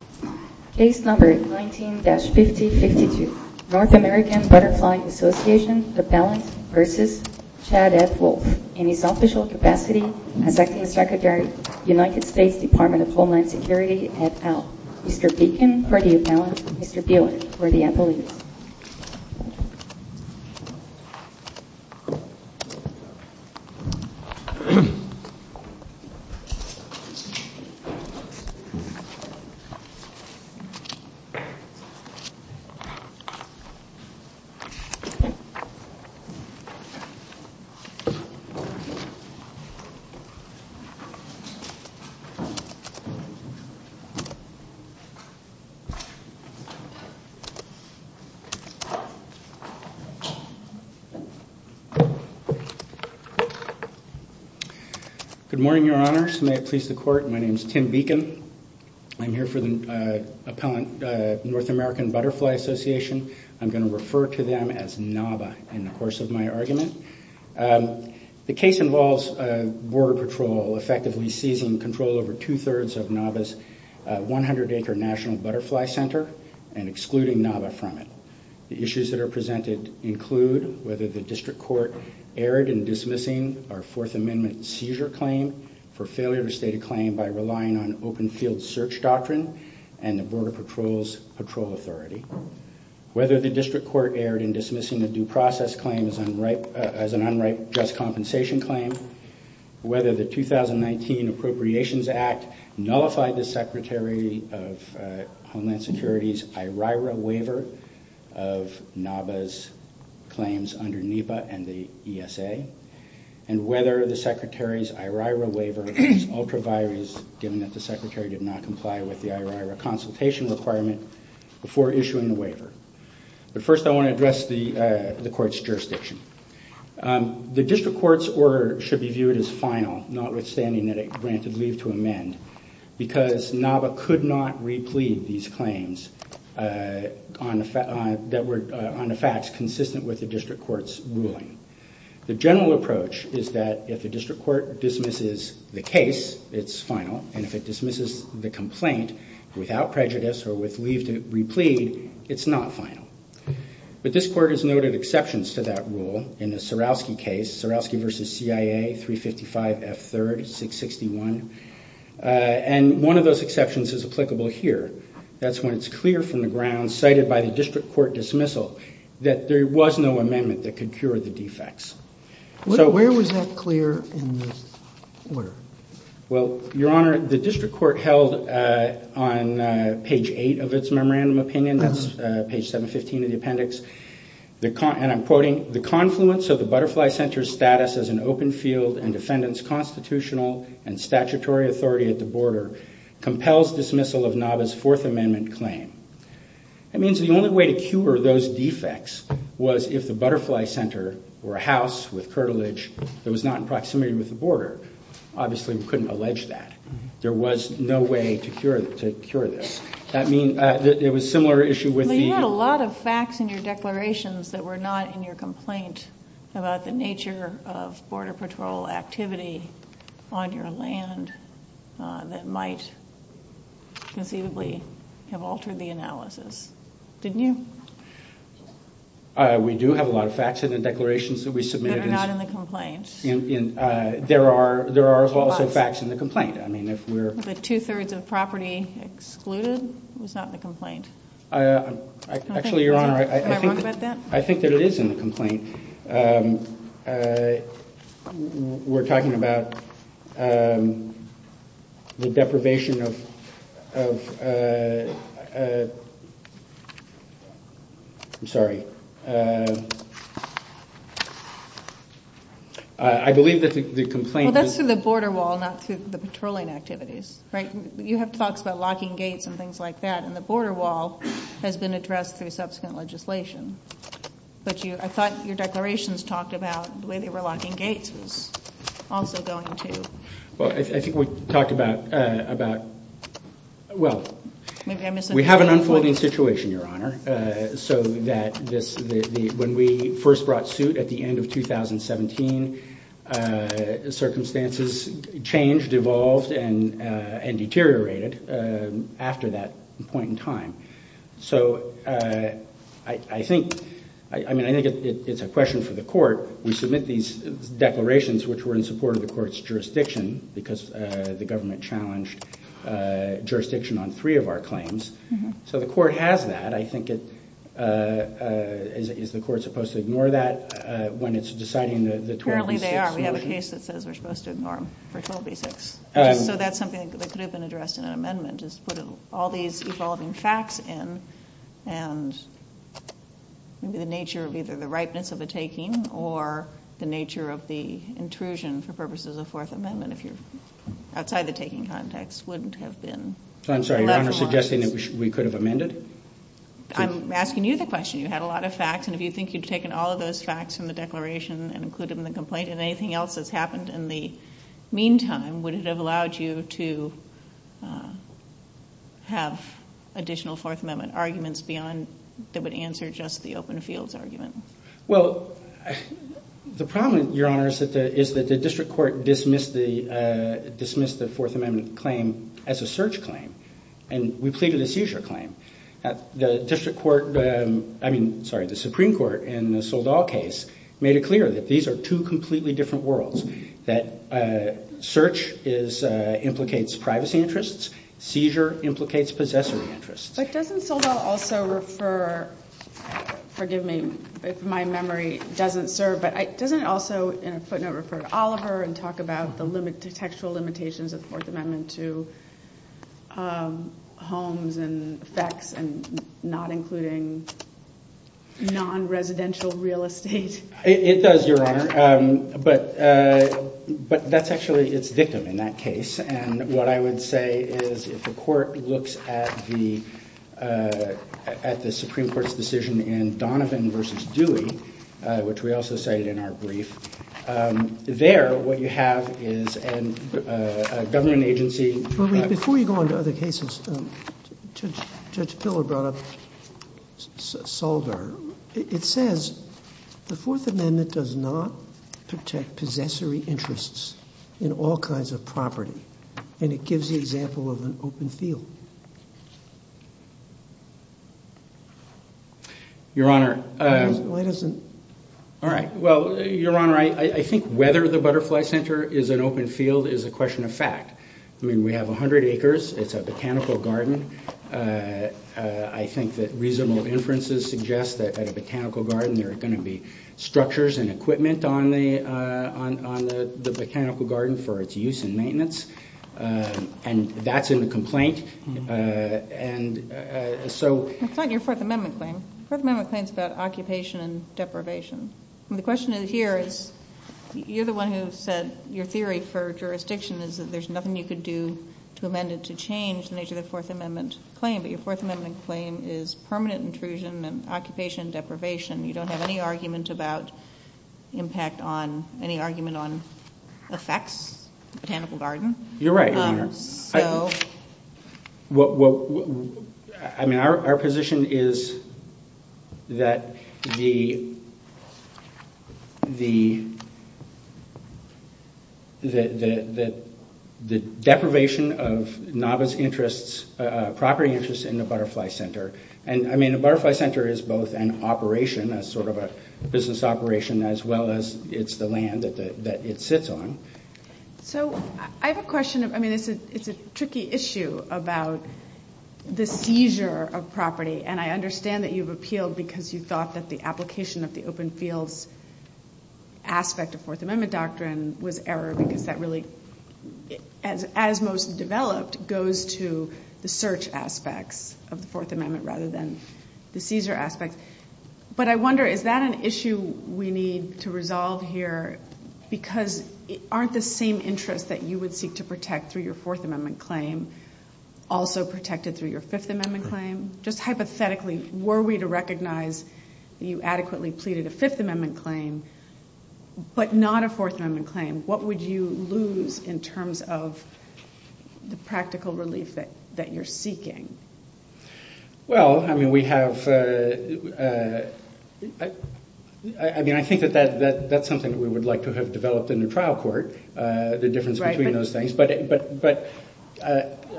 at AL. Mr. Beacon for the announcement, Mr. Buellen for the emcee. Mr. Beacon for the announcement, Mr. Buellen for the emcee. Good morning, your honors. May it please the court, my name is Tim Beacon. I'm here for the appellant North American Butterfly Association. I'm going to refer to them as NABA in the course of my argument. The case involves Border Patrol effectively seizing control over two-thirds of NABA's 100-acre National Butterfly Center and excluding NABA from it. The issues that are presented include whether the district court erred in dismissing our Fourth Amendment seizure claim for failure to state a claim by relying on open field search doctrine and the Border Patrol's patrol authority. Whether the district court erred in dismissing the due process claim as an unrighteous compensation claim. Whether the 2019 Appropriations Act nullified the Secretary of Homeland Security's IRIRA waiver of NABA's claims under NEPA and the ESA. And whether the Secretary's IRIRA waiver is ultra-violent, given that the Secretary did not comply with the IRIRA consultation requirement before issuing the waiver. But first I want to address the court's jurisdiction. The district court's order should be viewed as final, notwithstanding that it granted leave to amend, because NABA could not re-plead these claims on the facts consistent with the district court's ruling. The general approach is that if the district court dismisses the case, it's final, and if it dismisses the complaint without prejudice or with leave to re-plead, it's not final. But this court has noted exceptions to that rule in the Surowski case, Surowski v. CIA, 355 F. 3rd, 661. And one of those exceptions is applicable here. That's when it's clear from the ground, cited by the district court dismissal, that there was no amendment that could cure the defects. Where was that clear in this order? Well, Your Honor, the district court held on page 8 of its memorandum opinion, that's page 715 of the appendix, and I'm quoting, that were not in your complaint about the nature of Border Patrol activity on your land that might conceivably have altered the analysis. Didn't you? We do have a lot of facts in the declarations that we submitted. But they're not in the complaint. There are also facts in the complaint. The two-thirds of property excluded was not in the complaint. Actually, Your Honor, I think that it is in the complaint. We're talking about the deprivation of... I'm sorry. I believe that the complaint is... Well, that's for the border wall, not for the patrolling activities. Right. You have talks about locking gates and things like that, and the border wall has been addressed through subsequent legislation. But I thought your declarations talked about the way they were locking gates was also going to... Well, I think we talked about... Well, we have an unfolding situation, Your Honor, so that when we first brought suit at the end of 2017, circumstances changed, evolved, and deteriorated after that point in time. So I think... I mean, I think it's a question for the court. We submit these declarations which were in support of the court's jurisdiction because the government challenged jurisdiction on three of our claims. So the court has that. I think it... Is the court supposed to ignore that when it's deciding the 12B6? Apparently they are. We have a case that says they're supposed to ignore the 12B6. So that's something that could have been addressed in an amendment, is put all these evolving facts in, and the nature of either the ripeness of the taking or the nature of the intrusion for purposes of the Fourth Amendment, if you're outside the taking context, wouldn't have been... I'm sorry, Your Honor, suggesting that we could have amended? I'm asking you the question. You have a lot of facts, and if you think you've taken all of those facts from the declaration and included them in the complaint, and anything else that's happened in the meantime, would it have allowed you to have additional Fourth Amendment arguments that would answer just the open fields argument? Well, the problem, Your Honor, is that the district court dismissed the Fourth Amendment claim as a search claim, and we pleaded a seizure claim. The district court... I mean, sorry, the Supreme Court in the Soldall case made it clear that these are two completely different worlds, that search implicates privacy interests, seizure implicates possessive interests. But doesn't Soldall also refer... Forgive me if my memory doesn't serve, but doesn't it also, in a footnote, refer to Oliver and talk about the sexual limitations of the Fourth Amendment to homes and sex and not including non-residential real estate? It does, Your Honor, but that's actually... It's different in that case, and what I would say is if the court looks at the Supreme Court's decision in Donovan v. Dewey, which we also cited in our brief, there, what you have is a government agency... Before we go on to other cases, Judge Pillow brought up Soldall. It says the Fourth Amendment does not protect possessory interests in all kinds of property, and it gives the example of an open field. Your Honor... All right, well, Your Honor, I think whether the Butterfly Center is an open field is a question of fact. I mean, we have 100 acres. It's a botanical garden. I think that reasonable inferences suggest that by a botanical garden there are going to be structures and equipment on the botanical garden for its use and maintenance, and that's in the complaint, and so... It's not your Fourth Amendment claim. Fourth Amendment claims about occupation and deprivation. The question here is you're the one who said your theory for jurisdiction is that there's nothing you could do to amend it to change the nature of the Fourth Amendment claim, but your Fourth Amendment claim is permanent intrusion and occupation deprivation. You don't have any argument about impact on, any argument on effects, botanical garden. You're right, Your Honor. Well, I mean, our position is that the deprivation of novice interests, property interests in the Butterfly Center, and, I mean, the Butterfly Center is both an operation, that's sort of a business operation, as well as it's the land that it sits on. So I have a question. I mean, it's a tricky issue about the seizure of property, and I understand that you've appealed because you thought that the application of the open field aspect of Fourth Amendment doctrine was error because that really, as most developed, goes to the search aspect of the Fourth Amendment rather than the seizure aspect. But I wonder, is that an issue we need to resolve here because aren't the same interests that you would seek to protect through your Fourth Amendment claim also protected through your Fifth Amendment claim? Just hypothetically, were we to recognize you adequately pleaded a Fifth Amendment claim but not a Fourth Amendment claim, what would you lose in terms of the practical relief that you're seeking? Well, I mean, I think that that's something that we would like to have developed in the trial court, the difference between those things. But,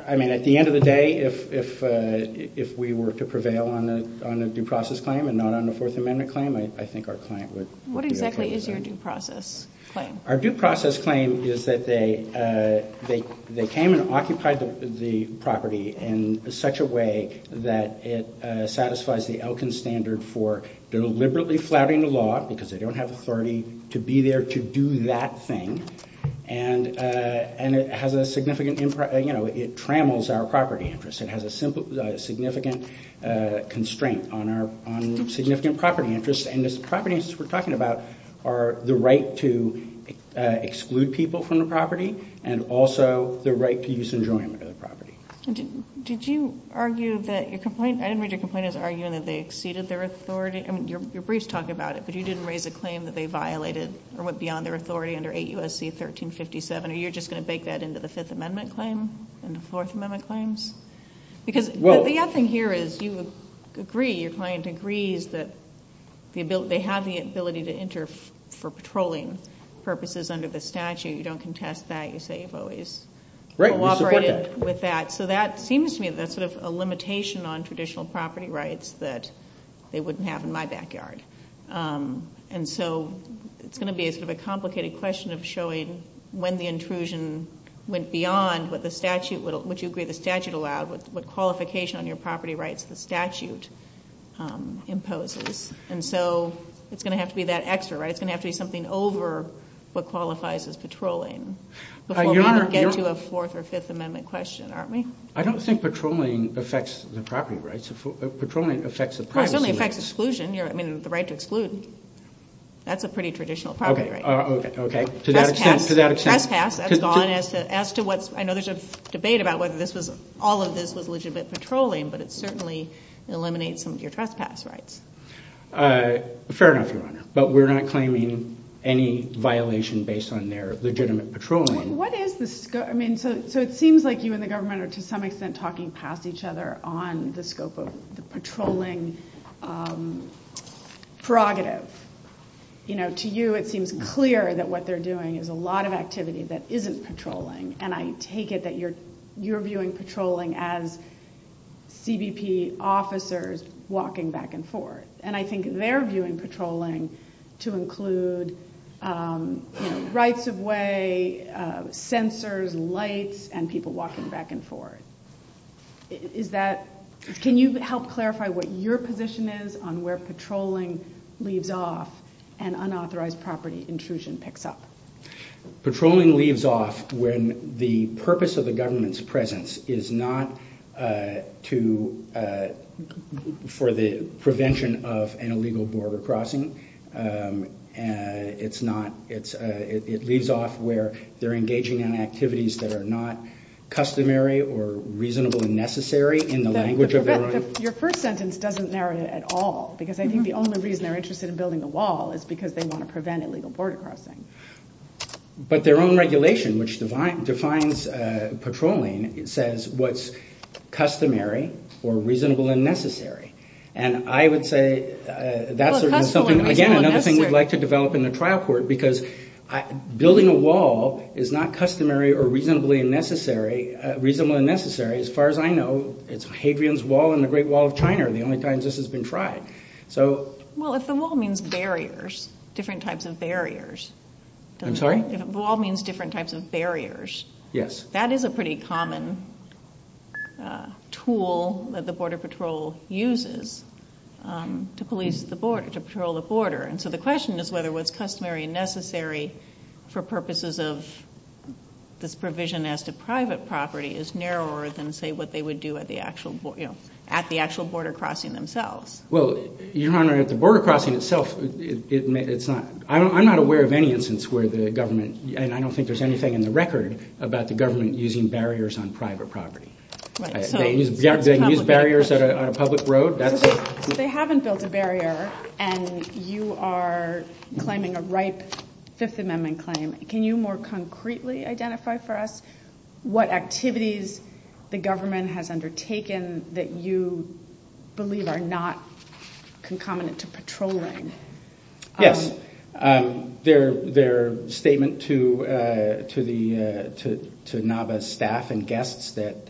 I mean, at the end of the day, if we were to prevail on a due process claim and not on the Fourth Amendment claim, I think our client would... What exactly is your due process claim? Our due process claim is that they came and occupied the property in such a way that it satisfies the Elkins standard for deliberately flouting the law because they don't have authority to be there to do that thing. And it has a significant impact. You know, it trammels our property interest. It has a significant constraint on our significant property interest. And the property interests we're talking about are the right to exclude people from the property and also the right to use enjoyment of the property. Did you argue that your complaint... I read your complaint as arguing that they exceeded their authority. I mean, your briefs talk about it, but you didn't raise a claim that they violated or went beyond their authority under 8 U.S.C. 1357. Are you just going to bake that into the Fifth Amendment claim and the Fourth Amendment claims? Because the other thing here is you would agree, your client agrees that they have the ability to enter for patrolling purposes under the statute. You don't contest that. You say you've always cooperated with that. So that seems to me that's sort of a limitation on traditional property rights that they wouldn't have in my backyard. And so it's going to be sort of a complicated question of showing when the intrusion went beyond what the statute would allow, what qualification on your property rights the statute imposes. And so it's going to have to be that extra, right? What qualifies as patrolling before we get to a Fourth or Fifth Amendment question, aren't we? I don't think patrolling affects the property rights. Patrolling affects the privacy. It doesn't affect exclusion. I mean, the right to exclude. That's a pretty traditional property right. Okay. To that extent. To that extent. As to what... I know there's a debate about whether all of this was legitimate patrolling, but it certainly eliminates some of your trespass rights. Fair enough, Your Honor. But we're not claiming any violation based on their legitimate patrolling. What is the scope... I mean, so it seems like you and the government are to some extent talking past each other on the scope of the patrolling prerogative. You know, to you it seems clear that what they're doing is a lot of activity that isn't patrolling. And I take it that you're viewing patrolling as CBP officers walking back and forth. And I think they're viewing patrolling to include rights of way, censors, lights, and people walking back and forth. Is that... Can you help clarify what your position is on where patrolling leaves off and unauthorized property intrusion picks up? Patrolling leaves off when the purpose of the government's presence is not to... for the prevention of an illegal border crossing. It's not... It leaves off where they're engaging in activities that are not customary or reasonable and necessary in the language of their own... But their own regulation which defines patrolling says what's customary or reasonable and necessary. And I would say that's something... Again, another thing we'd like to develop in the trial court because building a wall is not customary or reasonably necessary... reasonable and necessary. As far as I know, it's Hadrian's Wall and the Great Wall of China are the only times this has been tried. So... Well, if the wall means barriers, different types of barriers... I'm sorry? Wall means different types of barriers. Yes. That is a pretty common tool that the Border Patrol uses to police the border, to patrol the border. And so the question is whether what's customary and necessary for purposes of this provision as to private property is narrower than, say, what they would do at the actual border crossing themselves. Well, Your Honor, at the border crossing itself, it's not... I'm not aware of any instance where the government... And I don't think there's anything in the record about the government using barriers on private property. They use barriers on a public road. They haven't built a barrier and you are claiming a ripe Fifth Amendment claim. Can you more concretely identify for us what activities the government has undertaken that you believe are not concomitant to patrolling? Yes. Their statement to Nava's staff and guests that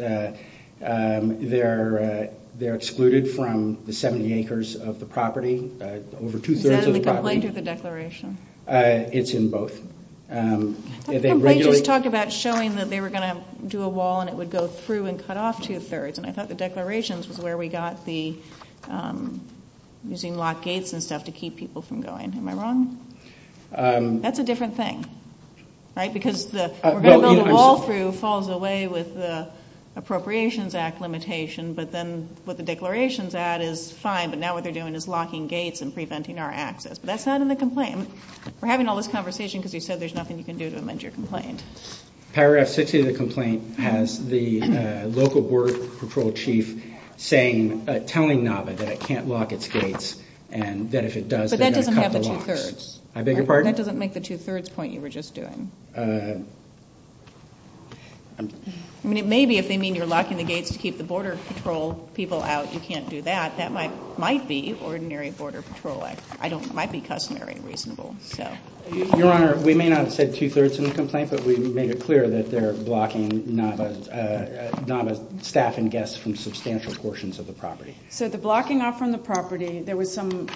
they're excluded from the 70 acres of the property, over two-thirds of the property. And then the complaint or the declaration? It's in both. That complaint just talked about showing that they were going to do a wall and it would go through and cut off two-thirds. And I thought the declarations was where we got the using locked gates and stuff to keep people from going. Am I wrong? That's a different thing, right? Because the wall through falls away with the Appropriations Act limitation, but then with the declarations, that is fine. But now what they're doing is locking gates and preventing our access. That's not in the complaint. We're having all this conversation because you said there's nothing you can do to amend your complaint. Paragraph 60 of the complaint has the local border patrol chief telling Nava that it can't lock its gates and that if it does, they're going to cut the locks. But that doesn't have the two-thirds. I beg your pardon? That doesn't make the two-thirds point you were just doing. Maybe if they mean you're locking the gates to keep the border patrol people out, you can't do that. That might be ordinary border patrol. It might be customary and reasonable. Your Honor, we may not have said two-thirds in the complaint, but we made it clear that they're blocking Nava's staff and guests from substantial portions of the property. So the blocking off from the property, there was some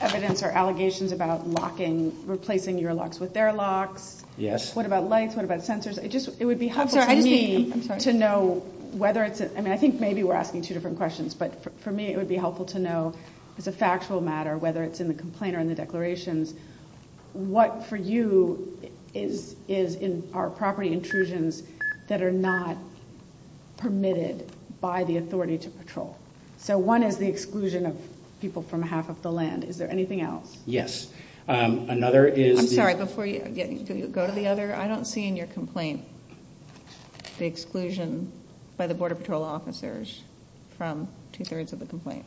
evidence or allegations about replacing your locks with their lock. Yes. What about lights? What about sensors? It would be helpful for me to know whether it's, and I think maybe we're asking two different questions, but for me it would be helpful to know as a factual matter, whether it's in the complaint or in the declarations, what for you is in our property intrusions that are not permitted by the authority to patrol? So one is the exclusion of people from half of the land. Is there anything else? Yes. I'm sorry, before you go to the other, I don't see in your complaint the exclusion by the border patrol officers from two-thirds of the complaint.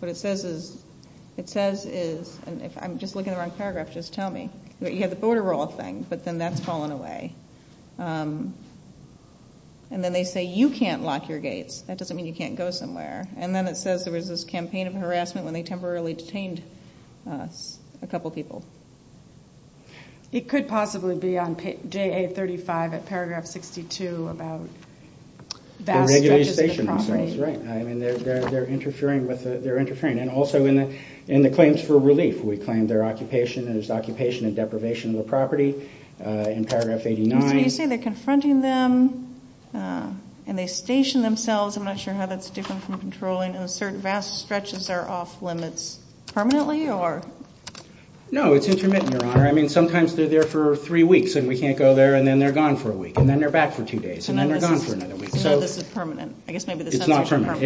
What it says is, and if I'm just looking at the wrong paragraph, just tell me. You have the border rule thing, but then that's fallen away. And then they say you can't lock your gates. That doesn't mean you can't go somewhere. And then it says there was this campaign of harassment when they temporarily detained a couple people. It could possibly be on JA35 at paragraph 62 about validations of the property. They're interfering, but they're interfering. And also in the claims for relief, we claim there's occupation and deprivation of the property in paragraph 89. You say they're confronting them and they station themselves. I'm not sure how that's different from controlling. And vast stretches are off limits permanently? No, it's intermittent. I mean, sometimes they're there for three weeks and we can't go there, and then they're gone for a week. And then they're back for two days, and then they're gone for another week. So this is permanent. It's not permanent.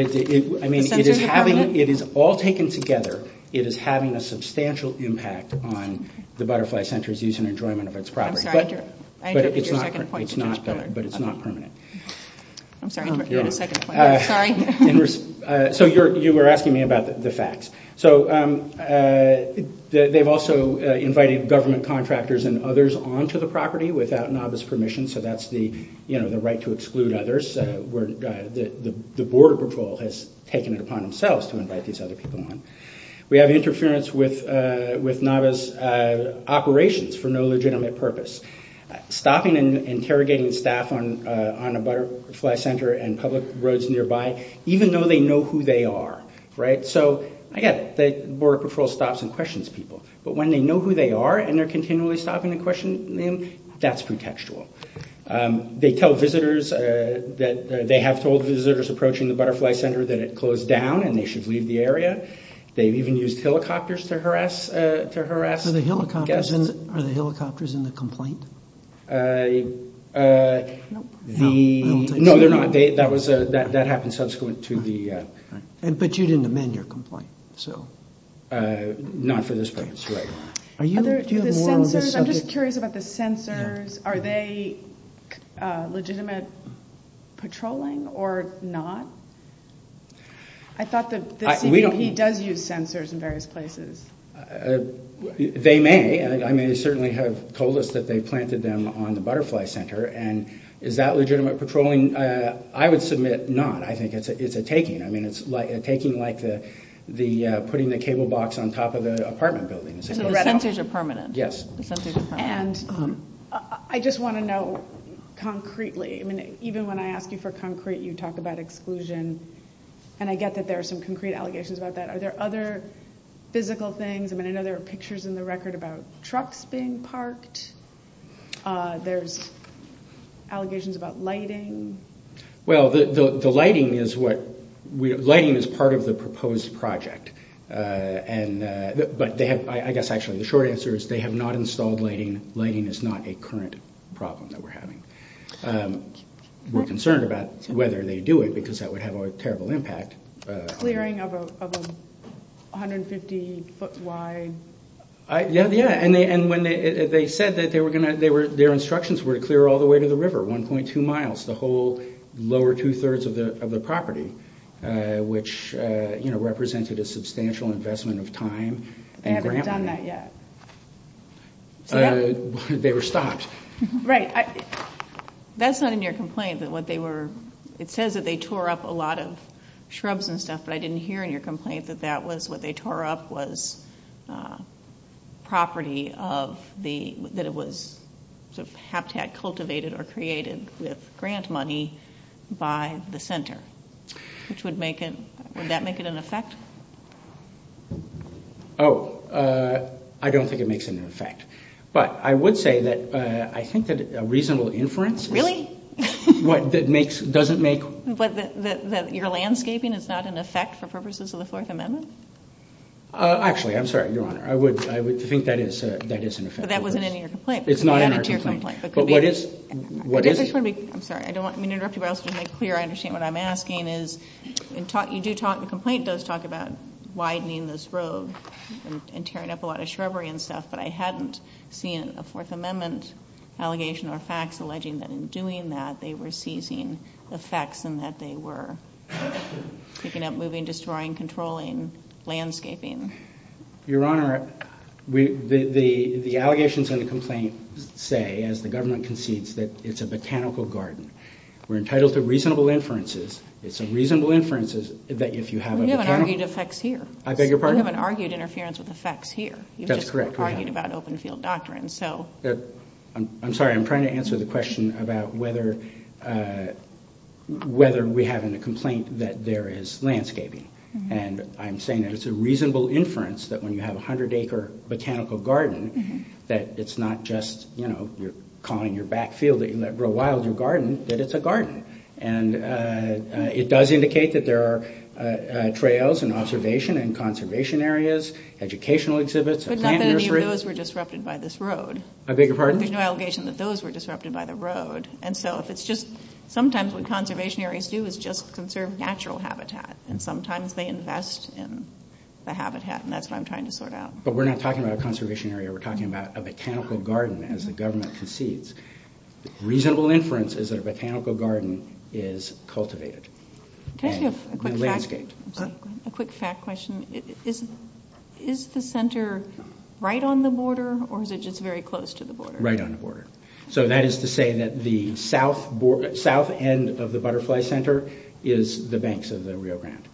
I mean, it is all taken together. It is having a substantial impact on the Butterfly Center's use and enjoyment of its property. But it's not permanent. I'm sorry. Sorry. So you were asking me about the facts. So they've also invited government contractors and others onto the property without NAVA's permission. So that's the right to exclude others. The Border Patrol has taken it upon themselves to invite these other people on. We have interference with NAVA's operations for no legitimate purpose. Stopping and interrogating staff on a Butterfly Center and public roads nearby, even though they know who they are. Right? So, again, the Border Patrol stops and questions people. But when they know who they are and they're continually stopping and questioning, that's pretextual. They tell visitors that they have told visitors approaching the Butterfly Center that it closed down and they should leave the area. They've even used helicopters to harass guests. Are the helicopters in the complaint? No, they're not. That happens subsequent to the- But you didn't amend your complaint, so- Not for this purpose, right. Do you have more on this subject? I'm just curious about the sensors. Are they legitimate patrolling or not? I thought that he does use sensors in various places. They may. I mean, they certainly have told us that they planted them on the Butterfly Center. And is that legitimate patrolling? I would submit not. I think it's a taking. I mean, it's a taking like putting the cable box on top of an apartment building. Sensors are permanent. Yes. Sensors are permanent. And I just want to know concretely. I mean, even when I ask you for concrete, you talk about exclusion. And I get that there are some concrete allegations about that. Are there other physical things? I mean, I know there are pictures in the record about trucks being parked. There's allegations about lighting. Well, the lighting is part of the proposed project. But I guess actually the short answer is they have not installed lighting. Lighting is not a current problem that we're having. We're concerned about whether they do it because that would have a terrible impact. Clearing of a 150-foot wide- Yeah, yeah. And they said that their instructions were to clear all the way to the river, 1.2 miles, the whole lower two-thirds of the property, which, you know, represented a substantial investment of time. They haven't done that yet. They were stopped. Right. That's not in your complaint that what they were – it says that they tore up a lot of shrubs and stuff, but I didn't hear in your complaint that that was what they tore up was property of the – that it was haptag-cultivated or created with grant money by the center, which would make it – would that make it an effect? Oh, I don't think it makes an effect. But I would say that I think that a reasonable inference- Really? What that makes – doesn't make – But that you're landscaping, it's not an effect for purposes of the Fourth Amendment? Actually, I'm sorry, Your Honor. I would think that is an effect. But that wasn't in your complaint. It's not in our complaint. But what is – what is it? I'm sorry, I don't want you to interrupt me or make it clear. I understand what I'm asking is you do talk – the complaint does talk about widening those roads and tearing up a lot of shrubbery and stuff, but I hadn't seen a Fourth Amendment allegation or facts alleging that in doing that, they were seizing effects and that they were picking up, moving, destroying, controlling, landscaping. Your Honor, the allegations in the complaint say, as the government concedes, that it's a botanical garden. We're entitled to reasonable inferences. It's a reasonable inference that if you have a botanical – You haven't argued effects here. I beg your pardon? You haven't argued interference with effects here. That's correct. You just argued about open field doctrine. I'm sorry. I'm trying to answer the question about whether we have in the complaint that there is landscaping. And I'm saying that it's a reasonable inference that when you have a 100-acre botanical garden, that it's not just, you know, you're calling your back field that you let grow wild your garden, that it's a garden. And it does indicate that there are trails and observation and conservation areas, educational exhibits, a plant nursery. But that doesn't mean those were disrupted by this road. I beg your pardon? There's no allegation that those were disrupted by the road. And so if it's just – sometimes what conservation areas do is just conserve natural habitat. And sometimes they invest in the habitat. And that's what I'm trying to sort out. But we're not talking about a conservation area. We're talking about a botanical garden, as the government concedes. Reasonable inference is that a botanical garden is cultivated. Thank you. A quick fact question. Is the center right on the border, or is it just very close to the border? Right on the border. So that is to say that the south end of the Butterfly Center is the banks of the Rio Grande.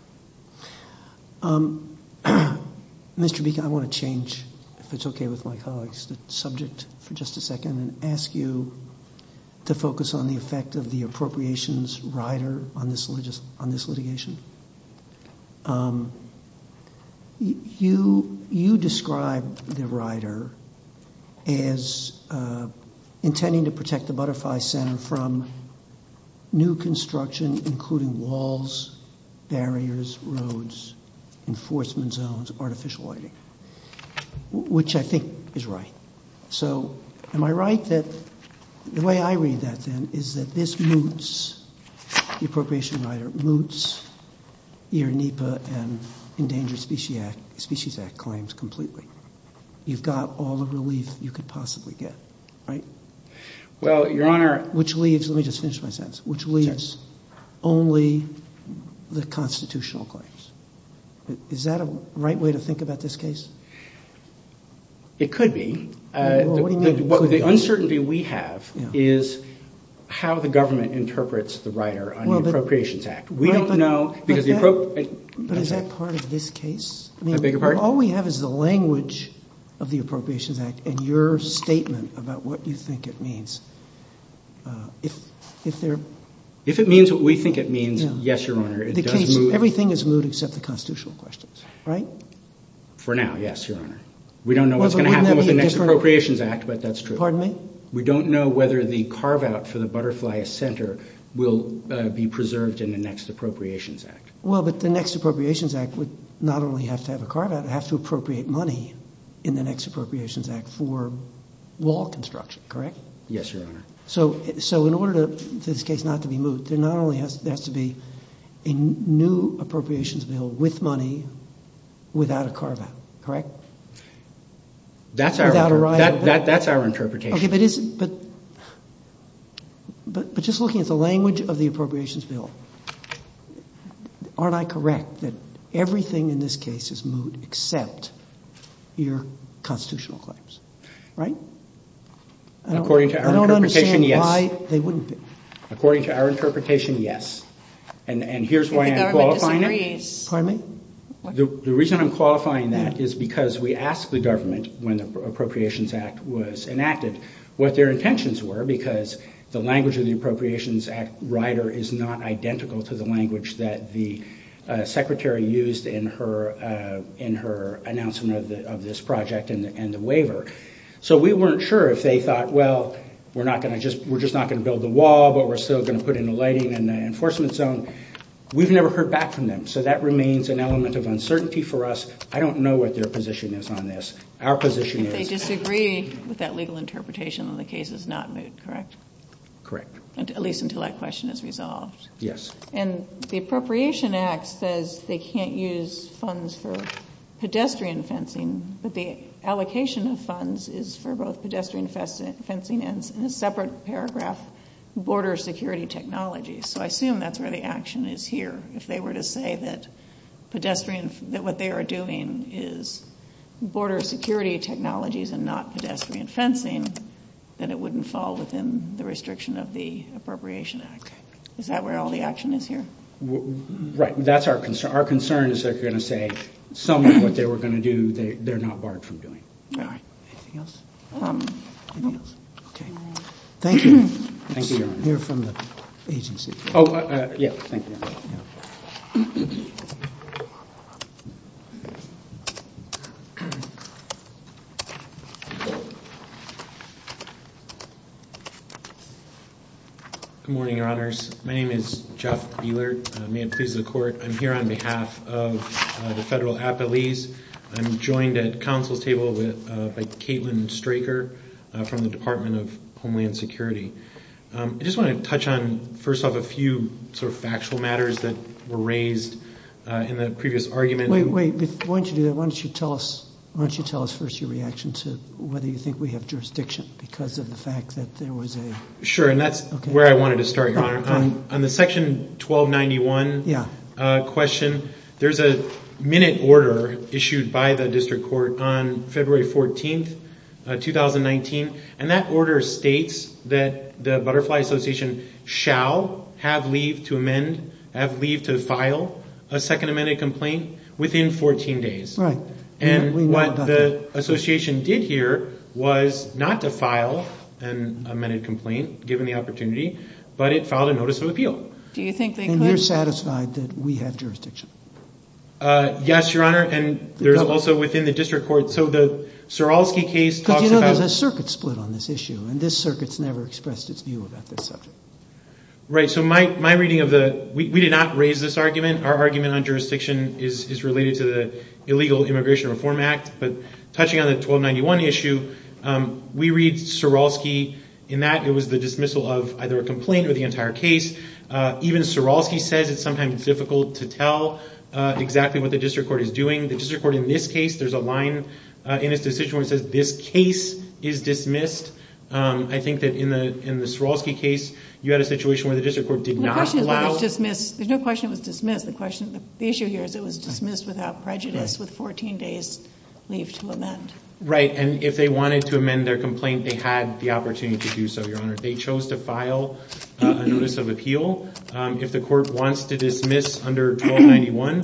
Mr. Beacon, I want to change, if it's okay with my colleagues, the subject for just a second and ask you to focus on the effect of the appropriations rider on this litigation. You described the rider as intending to protect the Butterfly Center from new construction, including walls, barriers, roads, enforcement zones, artificial lighting, which I think is right. So am I right that the way I read that, then, is that this moots the appropriation rider, moots your NEPA and Endangered Species Act claims completely? You've got all the relief you could possibly get, right? Well, Your Honor. Which leaves, let me just finish my sentence, which leaves only the constitutional claims. Is that a right way to think about this case? It could be. The uncertainty we have is how the government interprets the rider on the Appropriations Act. We don't know. Is that part of this case? All we have is the language of the Appropriations Act and your statement about what you think it means. If it means what we think it means, yes, Your Honor. Everything is moot except the constitutional questions, right? For now, yes, Your Honor. We don't know what's going to happen with the next Appropriations Act, but that's true. Pardon me? We don't know whether the carve-out for the Butterfly Center will be preserved in the next Appropriations Act. Well, but the next Appropriations Act would not only have to have a carve-out, it has to appropriate money in the next Appropriations Act for wall construction, correct? Yes, Your Honor. So in order for this case not to be moot, it not only has to be a new Appropriations Bill with money, without a carve-out, correct? That's our interpretation. Okay, but just looking at the language of the Appropriations Bill, aren't I correct that everything in this case is moot except your constitutional claims, right? According to our interpretation, yes. I don't understand why they wouldn't be. According to our interpretation, yes. And here's why I'm qualifying that. Pardon me? The reason I'm qualifying that is because we asked the government, when the Appropriations Act was enacted, what their intentions were, because the language of the Appropriations Act rider is not identical to the language So we weren't sure if they thought, well, we're just not going to build the wall, but we're still going to put in the lighting and the enforcement zone. We've never heard back from them, so that remains an element of uncertainty for us. I don't know what their position is on this. Our position is... They disagreed with that legal interpretation and the case is not moot, correct? Correct. At least until that question is resolved. Yes. And the Appropriations Act says they can't use funds for pedestrian fencing, but the allocation of funds is for both pedestrian fencing and, in a separate paragraph, border security technology. So I assume that's where the action is here. If they were to say that what they are doing is border security technologies and not pedestrian fencing, then it wouldn't fall within the restriction of the Appropriations Act. Is that where all the action is here? Right. That's our concern. Our concern is they're going to say some of what they were going to do, they're not barred from doing. All right. Anything else? Nothing else. Okay. Thank you. Thank you, Your Honor. You're from the agency. Oh, yes. Thank you. Good morning, Your Honors. My name is Jeff Buehler. May it please the Court. I'm here on behalf of the federal appellees. I'm joined at the Council table by Caitlin Straker from the Department of Homeland Security. I just want to touch on, first off, a few sort of factual matters that were raised in the previous argument. Wait, wait. Why don't you tell us first your reaction to whether you think we have jurisdiction because of the fact that there was a... On the Section 1291 question, there's a minute order issued by the district court on February 14th, 2019, and that order states that the Butterfly Association shall have leave to amend, have leave to file a second amended complaint within 14 days. Right. And what the association did here was not to file an amended complaint, given the opportunity, but it filed a notice of appeal. Do you think they could... And you're satisfied that we have jurisdiction? Yes, Your Honor. And there's also within the district court... So the Saralski case talks about... But you know there's a circuit split on this issue, and this circuit's never expressed its view about this subject. Right. So my reading of the... We did not raise this argument. Our argument on jurisdiction is related to the Illegal Immigration Reform Act. But touching on the 1291 issue, we read Saralski in that it was the dismissal of either a complaint or the entire case. Even Saralski says it's sometimes difficult to tell exactly what the district court is doing. The district court in this case, there's a line in its decision where it says this case is dismissed. I think that in the Saralski case, you had a situation where the district court did not allow... There's no question it was dismissed. The issue here is it was dismissed without prejudice with 14 days leave to amend. Right. And if they wanted to amend their complaint, they had the opportunity to do so, Your Honor. They chose to file a notice of appeal. If the court wants to dismiss under 1291,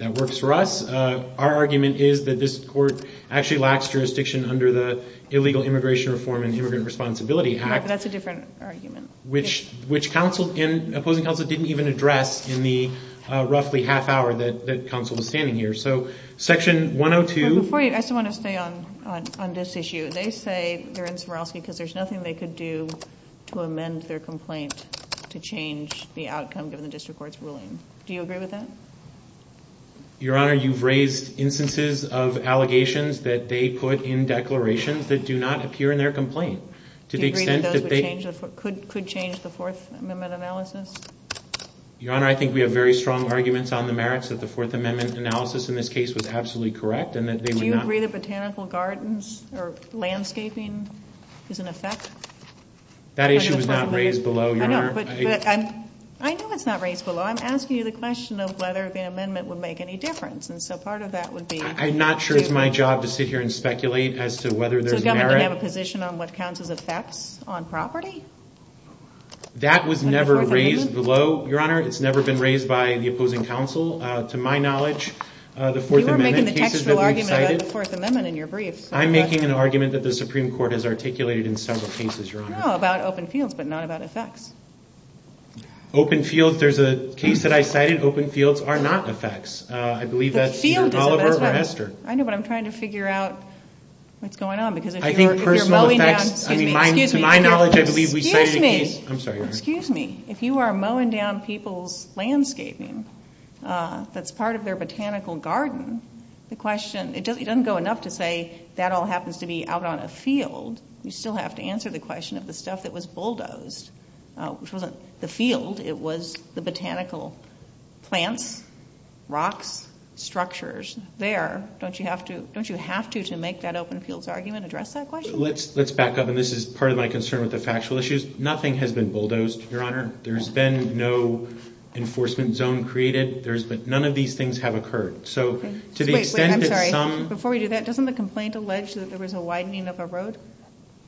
that works for us. Our argument is that this court actually lacks jurisdiction under the Illegal Immigration Reform and Immigrant Responsibility Act. That's a different argument. Which opposing counsel didn't even address in the roughly half hour that counsel was standing here. So Section 102... Before you, I just want to say on this issue, they say they're in Saralski because there's nothing they could do to amend their complaint to change the outcome given the district court's ruling. Do you agree with that? Your Honor, you've raised instances of allegations that they put in declarations that do not appear in their complaint. Do you agree that that could change the Fourth Amendment analysis? Your Honor, I think we have very strong arguments on the merits of the Fourth Amendment analysis. In this case, it was absolutely correct. Do you agree that botanical gardens or landscaping is in effect? That issue was not raised below, Your Honor. I know it's not raised below. I'm asking you the question of whether the amendment would make any difference. And so part of that would be... I'm not sure it's my job to sit here and speculate as to whether there's merit. Do you have a position on what counts as effects on property? That was never raised below, Your Honor. It's never been raised by the opposing counsel. To my knowledge, the Fourth Amendment... You were making an actual argument about the Fourth Amendment in your brief. I'm making an argument that the Supreme Court has articulated in several cases, Your Honor. No, about open fields, but not about effects. Open fields, there's a case that I cited, open fields are not effects. I believe that's Oliver or Esther. I know, but I'm trying to figure out what's going on. I think personal effects... Excuse me. I'm sorry, Your Honor. Excuse me. If you are mowing down people's landscaping that's part of their botanical garden, it doesn't go enough to say that all happens to be out on a field. You still have to answer the question of the stuff that was bulldozed. The field, it was the botanical plants, rocks, structures. Don't you have to to make that open fields argument, address that question? Let's back up, and this is part of my concern with the factual issues. Nothing has been bulldozed, Your Honor. There's been no enforcement zone created. None of these things have occurred. Wait, I'm sorry. Before we do that, doesn't the complaint allege that there was a widening of a road?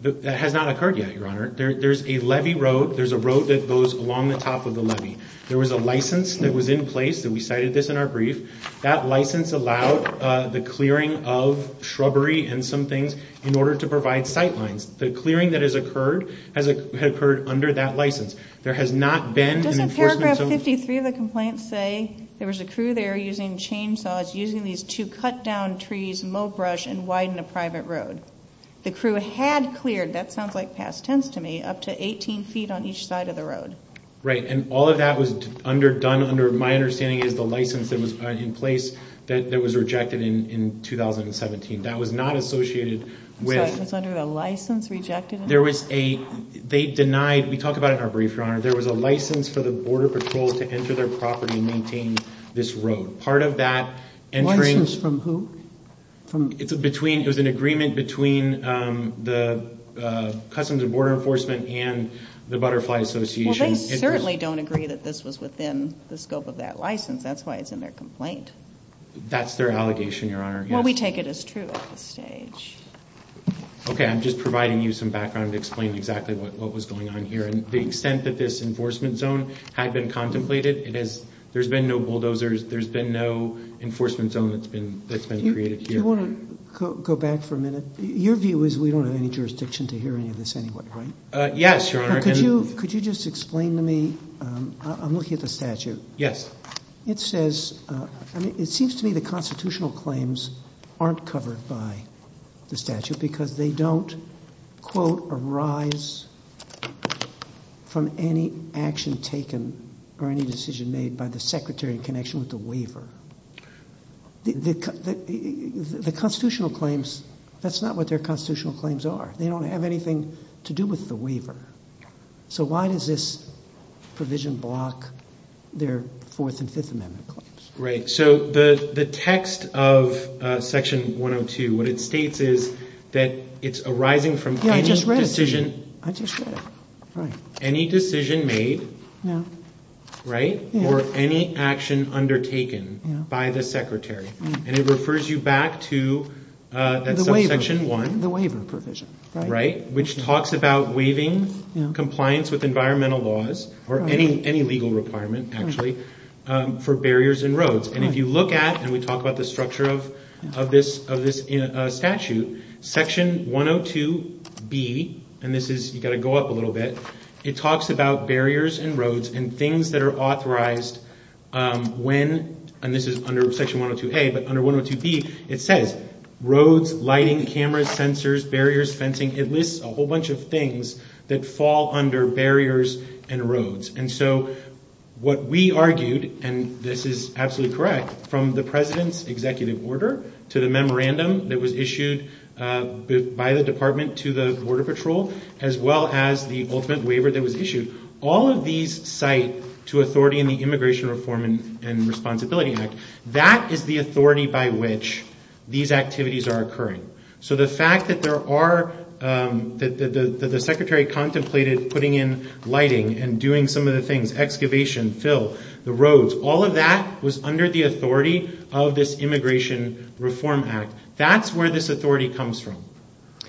That has not occurred yet, Your Honor. There's a levee road. There's a road that goes along the top of the levee. There was a license that was in place, and we cited this in our brief. That license allowed the clearing of shrubbery and some things in order to provide sight lines. The clearing that has occurred has occurred under that license. There has not been an enforcement zone. Doesn't paragraph 53 of the complaint say there was a crew there using chainsaws, using these two cut down trees, mow brush, and widen a private road? The crew had cleared, that sounds like past tense to me, up to 18 feet on each side of the road. Right, and all of that was done under my understanding is the license that was in place that was rejected in 2017. That was not associated with – License under a license rejected? There was a – they denied – we talked about it in our brief, Your Honor. There was a license for the Border Patrol to enter their property and maintain this road. Part of that – License from who? It's between – there's an agreement between the Customs and Border Enforcement and the Butterfly Association. Well, they clearly don't agree that this was within the scope of that license. That's why it's in their complaint. That's their allegation, Your Honor. Well, we take it as true at this stage. Okay, I'm just providing you some background to explain exactly what was going on here. The extent that this enforcement zone had been contemplated, there's been no bulldozers, there's been no enforcement zone that's been created. Do you want to go back for a minute? Your view is we don't have any jurisdiction to hear any of this anyway, right? Yes, Your Honor. Could you just explain to me – I'm looking at the statute. Yes. It says – I mean, it seems to me the constitutional claims aren't covered by the statute because they don't, quote, arise from any action taken or any decision made by the Secretary in connection with the waiver. The constitutional claims – that's not what their constitutional claims are. They don't have anything to do with the waiver. So why does this provision block their Fourth and Fifth Amendment claims? Right. So the text of Section 102, what it states is that it's arising from any decision – I just read it. I just read it. Right. Any decision made – Yeah. Right? Or any action undertaken by the Secretary. And it refers you back to – The waiver. That's on Section 1. The waiver provision. Right? Which talks about waiving compliance with environmental laws or any legal requirement, actually, for barriers and roads. And if you look at – and we talk about the structure of this statute – Section 102B – and this is – you've got to go up a little bit. It talks about barriers and roads and things that are authorized when – and this is under Section 102A. But under 102B, it says roads, lighting, cameras, sensors, barriers, fencing. It lists a whole bunch of things that fall under barriers and roads. And so what we argued – and this is absolutely correct – from the President's executive order to the memorandum that was issued by the Department to the Border Patrol, as well as the ultimate waiver that was issued, all of these cite to authority in the Immigration Reform and Responsibility Act. That is the authority by which these activities are occurring. So the fact that there are – that the Secretary contemplated putting in lighting and doing some of the things – excavation, fill, the roads – all of that was under the authority of this Immigration Reform Act. That's where this authority comes from.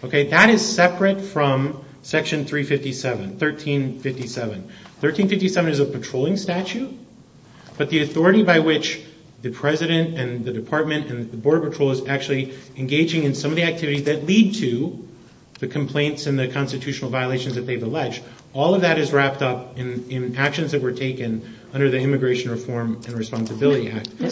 Okay? That is separate from Section 357, 1357. 1357 is a patrolling statute, but the authority by which the President and the Department and the Border Patrol is actually engaging in some of the activities that lead to the complaints and the constitutional violations that they've alleged, all of that is wrapped up in actions that were taken under the Immigration Reform and Responsibility Act. But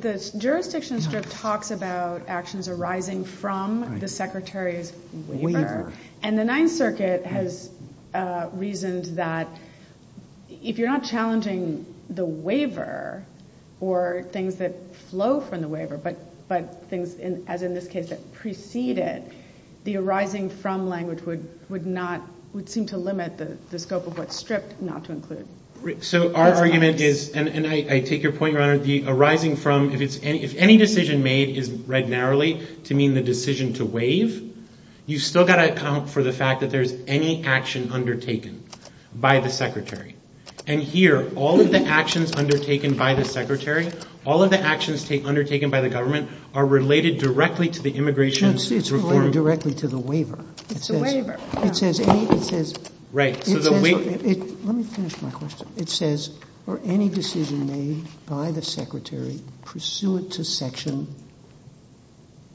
the jurisdiction script talks about actions arising from the Secretary's waiver. And the Ninth Circuit has reasoned that if you're not challenging the waiver or things that flow from the waiver, but things, as in this case, that precede it, the arising from language would not – would seem to limit the scope of what's stripped not to include. So our argument is – and I take your point, Your Honor – the arising from – if any decision made is read narrowly to mean the decision to waive, you've still got to account for the fact that there's any action undertaken by the Secretary. And here, all of the actions undertaken by the Secretary, all of the actions undertaken by the government are related directly to the Immigration Reform. It's related directly to the waiver. It's the waiver. It says – it says – Right. Let me finish my question. It says, for any decision made by the Secretary pursuant to Section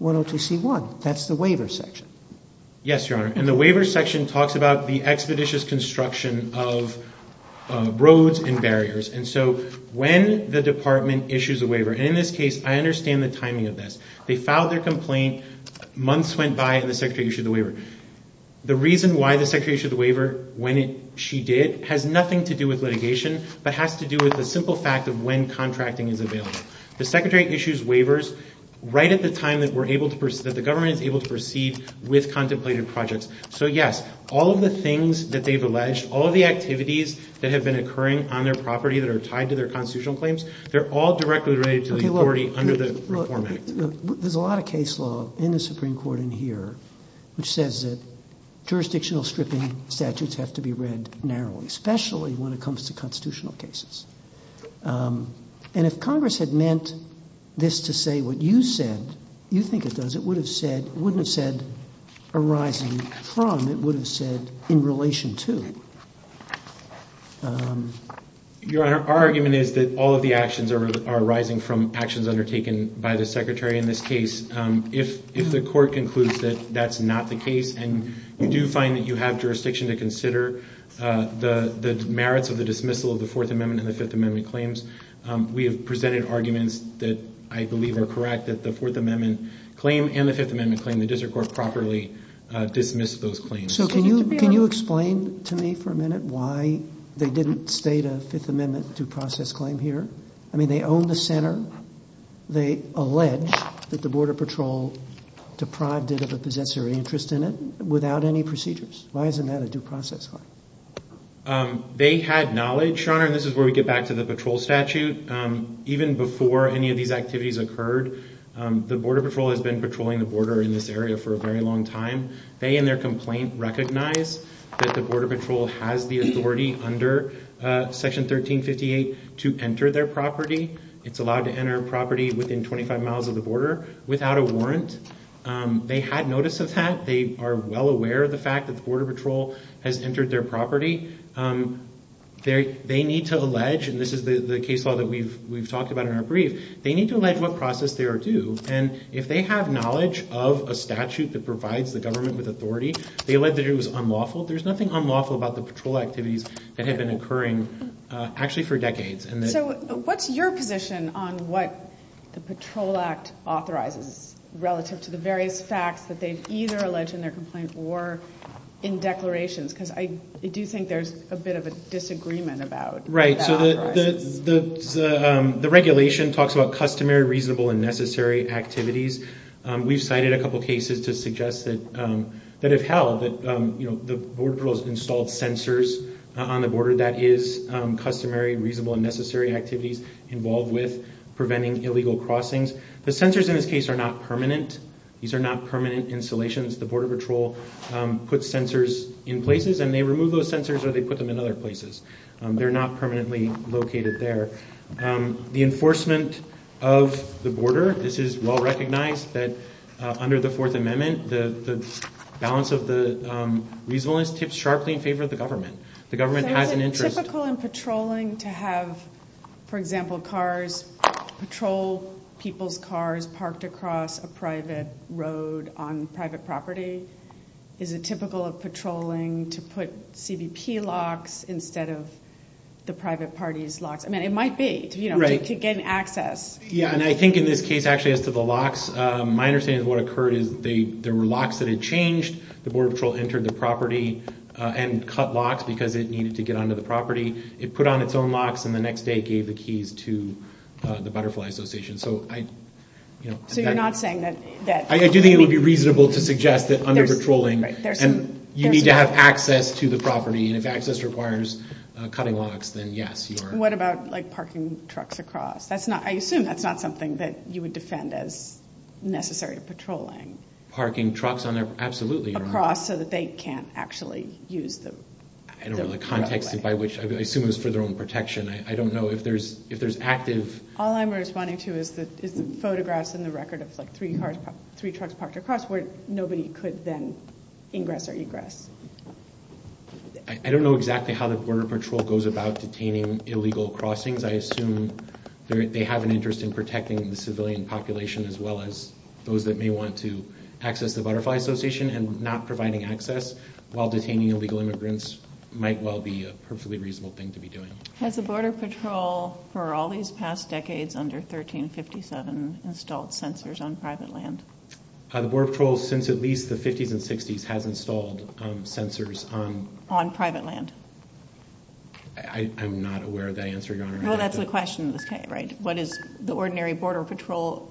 102C1, that's the waiver section. Yes, Your Honor. And the waiver section talks about the expeditious construction of roads and barriers. And so when the Department issues a waiver – and in this case, I understand the timing of this. They filed their complaint, months went by and the Secretary issued the waiver. The reason why the Secretary issued the waiver when she did has nothing to do with litigation but has to do with the simple fact of when contracting is available. The Secretary issues waivers right at the time that we're able to – that the government is able to proceed with contemplated projects. So, yes, all of the things that they've alleged, all of the activities that have been occurring on their property that are tied to their constitutional claims, they're all directly related to the authority under the Reform Act. There's a lot of case law in the Supreme Court in here which says that jurisdictional stripping statutes have to be read narrowly, especially when it comes to constitutional cases. And if Congress had meant this to say what you said, you think it does, it would have said – wouldn't have said arising from, it would have said in relation to. Your Honor, our argument is that all of the actions are arising from actions undertaken by the Secretary in this case. If the court concludes that that's not the case and you do find that you have jurisdiction to consider the merits of the dismissal of the Fourth Amendment and the Fifth Amendment claims, we have presented arguments that I believe are correct that the Fourth Amendment claim and the Fifth Amendment claim, the district court properly dismissed those claims. So can you explain to me for a minute why they didn't state a Fifth Amendment due process claim here? I mean, they own the center. They allege that the Border Patrol deprived it of the possessory interest in it without any procedures. Why isn't that a due process claim? They had knowledge, Your Honor, and this is where we get back to the patrol statute. Even before any of these activities occurred, the Border Patrol has been patrolling the border in this area for a very long time. They and their complaint recognize that the Border Patrol has the authority under Section 1358 to enter their property. It's allowed to enter a property within 25 miles of the border without a warrant. They had notice of that. They are well aware of the fact that the Border Patrol has entered their property. They need to allege, and this is the case law that we've talked about in our brief, they need to allege what process they are due. And if they have knowledge of a statute that provides the government with authority, they allege that it was unlawful. There's nothing unlawful about the patrol activities that have been occurring actually for decades. So what's your position on what the Patrol Act authorizes relative to the various facts that they've either alleged in their complaints or in declarations? Because I do think there's a bit of a disagreement about that. Right, so the regulation talks about customary, reasonable, and necessary activities. We've cited a couple cases to suggest that if held, the Border Patrol has installed sensors on the border. That is customary, reasonable, and necessary activities involved with preventing illegal crossings. The sensors in this case are not permanent. These are not permanent installations. The Border Patrol puts sensors in places and they remove those sensors or they put them in other places. They're not permanently located there. The enforcement of the border, this is well recognized that under the Fourth Amendment, the balance of the reasonableness tips sharply in favor of the government. The government has an interest. Is it typical in patrolling to have, for example, patrol people's cars parked across a private road on private property? Is it typical of patrolling to put CBP locks instead of the private party's locks? I mean, it might be to get access. Yeah, and I think in this case actually as to the locks, my understanding of what occurred is there were locks that had changed. The Border Patrol entered the property and cut locks because it needed to get onto the property. It put on its own locks and the next day gave the keys to the Butterfly Association. So you're not saying that... I do think it would be reasonable to suggest that under patrolling, you need to have access to the property. If access requires cutting locks, then yes. What about parking trucks across? I assume that's not something that you would defend as necessary patrolling. Parking trucks absolutely. Across so that they can't actually use them. I don't know the context by which, I assume it's for their own protection. I don't know if there's active... All I'm responding to is photographs in the record of three trucks parked across where nobody could then ingress or egress. I don't know exactly how the Border Patrol goes about detaining illegal crossings. I assume they have an interest in protecting the civilian population as well as those that may want to access the Butterfly Association. And not providing access while detaining illegal immigrants might well be a perfectly reasonable thing to be doing. Has the Border Patrol, for all these past decades under 1357, installed sensors on private land? The Border Patrol, since at least the 50s and 60s, has installed sensors on... On private land. I'm not aware of that answer, Your Honor. No, that's the question, right? What is the ordinary border patrolling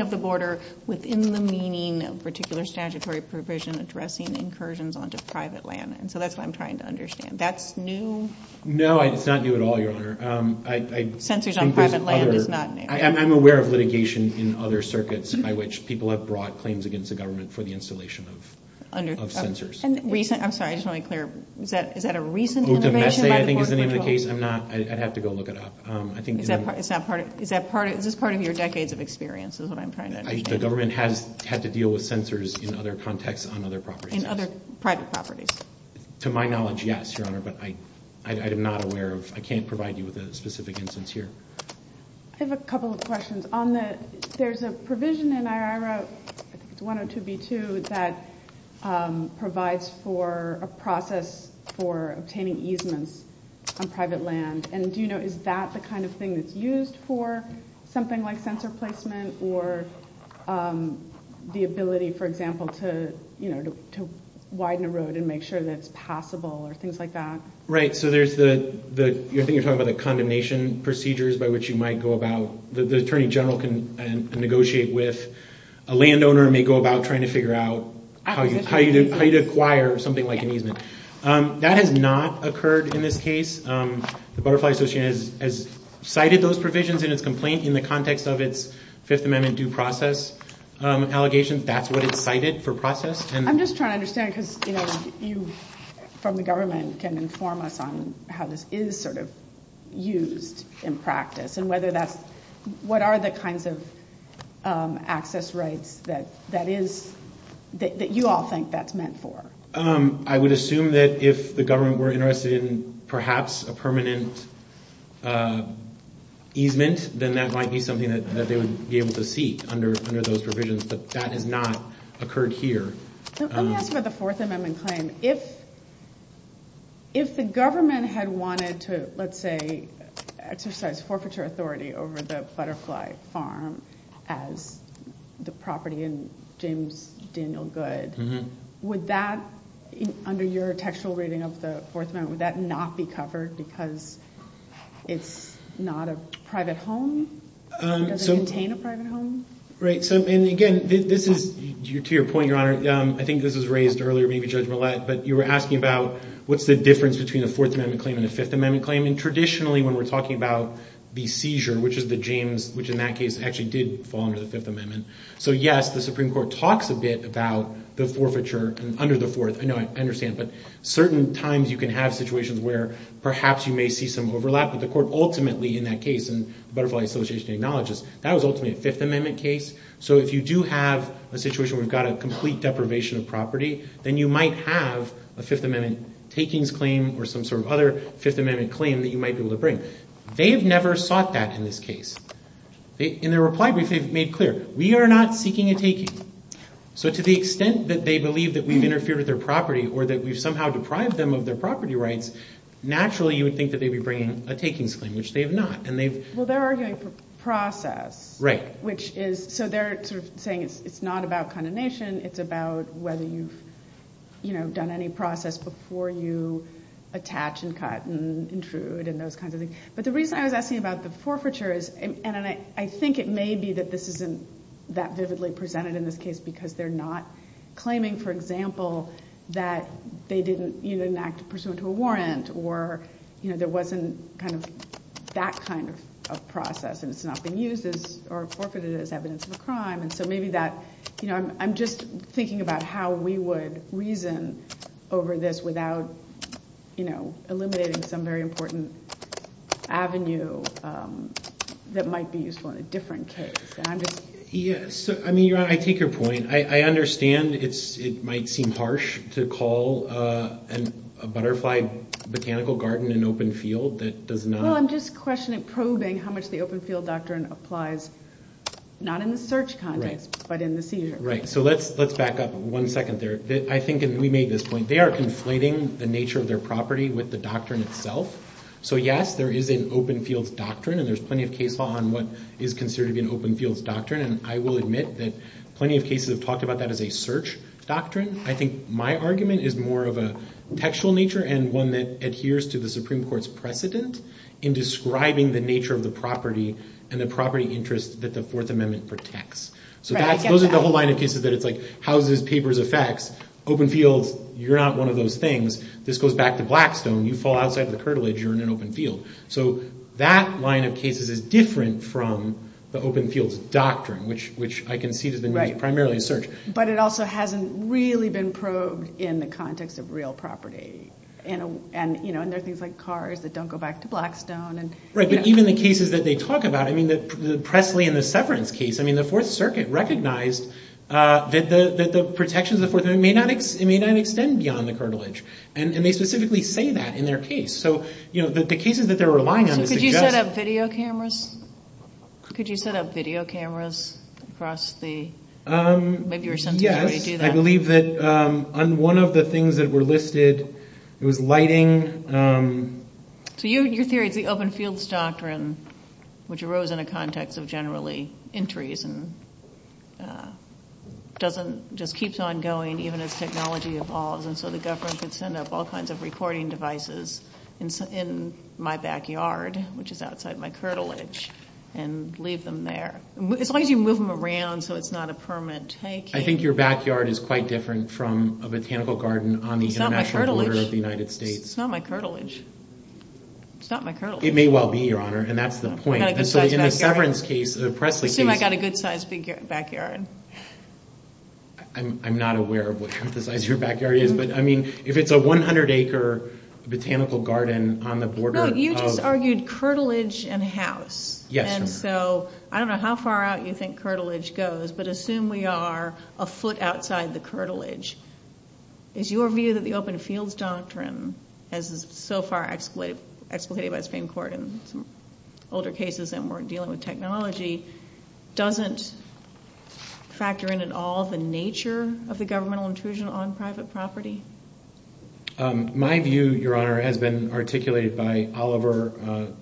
of the border within the meaning of particular statutory provision addressing incursions onto private land? So that's what I'm trying to understand. That's new? No, it's not new at all, Your Honor. Sensors on private land is not new. I'm aware of litigation in other circuits by which people have brought claims against the government for the installation of sensors. I'm sorry, I just want to be clear. Is that a recent litigation? I think it's been in the case. I'd have to go look it up. Is this part of your decades of experience is what I'm trying to understand. The government has had to deal with sensors in other contexts on other properties. In other private properties. To my knowledge, yes, Your Honor, but I am not aware of... I can't provide you with a specific instance here. I have a couple of questions. On the... There's a provision in IRO 102B2 that provides for a process for obtaining easements on private land. Is that the kind of thing that's used for something like sensor placement or the ability, for example, to widen a road and make sure that it's passable or things like that? Right. So there's the... You're thinking about the condemnation procedures by which you might go about... The Attorney General can negotiate with a landowner and may go about trying to figure out how you'd acquire something like an easement. That has not occurred in this case. The Border Collie Association has cited those provisions in its complaint in the context of its Fifth Amendment due process allegations. That's what it cited for process. I'm just trying to understand because, you know, you from the government can inform us on how this is sort of used in practice and whether that's... What are the kinds of access rights that is... That you all think that's meant for? I would assume that if the government were interested in perhaps a permanent easement, then that might be something that they would be able to seek under those provisions, but that has not occurred here. Let me ask about the Fourth Amendment claim. If the government had wanted to, let's say, exercise forfeiture authority over the Butterfly Farm as the property in James Daniel Goode, would that, under your textual reading of the Fourth Amendment, would that not be covered because it's not a private home? Does it contain a private home? Right. And again, this is to your point, Your Honor. I think this was raised earlier, maybe Judge Millett, but you were asking about what's the difference between a Fourth Amendment claim and a Fifth Amendment claim, and traditionally when we're talking about the seizure, which is the James, which in that case actually did fall under the Fifth Amendment. So, yes, the Supreme Court talks a bit about the forfeiture under the Fourth. I know, I understand, but certain times you can have situations where perhaps you may see some overlap, but the court ultimately in that case, and the Butterfly Association acknowledges, that was ultimately a Fifth Amendment case. So if you do have a situation where you've got a complete deprivation of property, then you might have a Fifth Amendment takings claim or some sort of other Fifth Amendment claim that you might be able to bring. They've never sought that in this case. In their reply, they've made clear, we are not seeking a taking. So to the extent that they believe that we've interfered with their property or that we've somehow deprived them of their property rights, naturally you would think that they'd be bringing a takings claim, which they have not. Well, they're arguing process. Right. So they're saying it's not about condemnation, it's about whether you've done any process before you attach and cut and intrude and those kinds of things. But the reason I was asking about the forfeiture is, and I think it may be that this isn't that vividly presented in this case because they're not claiming, for example, that they didn't either enact a pursuant to a warrant or there wasn't kind of that kind of process and it's not been used or forfeited as evidence of a crime. And so maybe that, you know, I'm just thinking about how we would reason over this without eliminating some very important avenue that might be useful in a different case. I mean, I take your point. I understand it might seem harsh to call a butterfly botanical garden an open field that does not... Well, I'm just questioning, probing how much the open field doctrine applies, not in the search context, but in the seizure. Right. So let's back up one second there. I think we made this point. They are conflating the nature of their property with the doctrine itself. So yes, there is an open field doctrine and there's plenty of case law on what is considered an open field doctrine. And I will admit that plenty of cases have talked about that as a search doctrine. I think my argument is more of a contextual nature and one that adheres to the Supreme Court's precedent in describing the nature of the property and the property interest that the Fourth Amendment protects. So that goes into the whole line of pieces that is like how those papers affect. Open field, you're not one of those things. This goes back to Blackstone. You fall outside the curtilage, you're in an open field. So that line of cases is different from the open field doctrine, which I can see has been primarily in search. But it also hasn't really been probed in the context of real property. And there are things like cars that don't go back to Blackstone. Right, but even the cases that they talk about, I mean, the Pressley and the Severance case, I mean, the Fourth Circuit recognized that the protections of the Fourth Amendment may not extend beyond the curtilage. And they specifically say that in their case. So, you know, the cases that they're relying on is the show. Could you set up video cameras? Could you set up video cameras across the... Yes, I believe that one of the things that were listed was lighting. So your theory is the open field doctrine, which arose in a context of generally entries and just keeps on going even as technology evolves. And so the government could set up all kinds of recording devices in my backyard, which is outside my curtilage, and leave them there. As long as you move them around so it's not a permanent take. I think your backyard is quite different from a botanical garden on the international border of the United States. It's not my curtilage. It's not my curtilage. It may well be, Your Honor, and that's the point. And so in the Severance case, the Pressley case... I've got a good-sized backyard. I'm not aware of what kind of size your backyard is, but, I mean, if it's a 100-acre botanical garden on the border of... No, you just argued curtilage and house. Yes. And so I don't know how far out you think curtilage goes, but assume we are a foot outside the curtilage. Is your view that the open field doctrine, as so far explicated by Supreme Court in older cases that weren't dealing with technology, doesn't factor in at all the nature of the governmental intrusion on private property? My view, Your Honor, has been articulated by Oliver,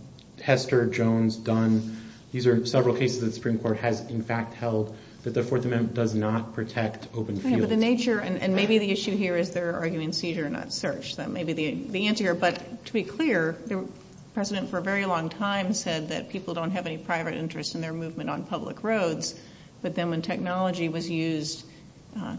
Hester, Jones, Dunn. These are several cases the Supreme Court has, in fact, held that the Fourth Amendment does not protect open field. But the nature, and maybe the issue here is they're arguing seizure, not search. That may be the answer here. But, to be clear, the President, for a very long time, said that people don't have any private interest in their movement on public roads. But then when technology was used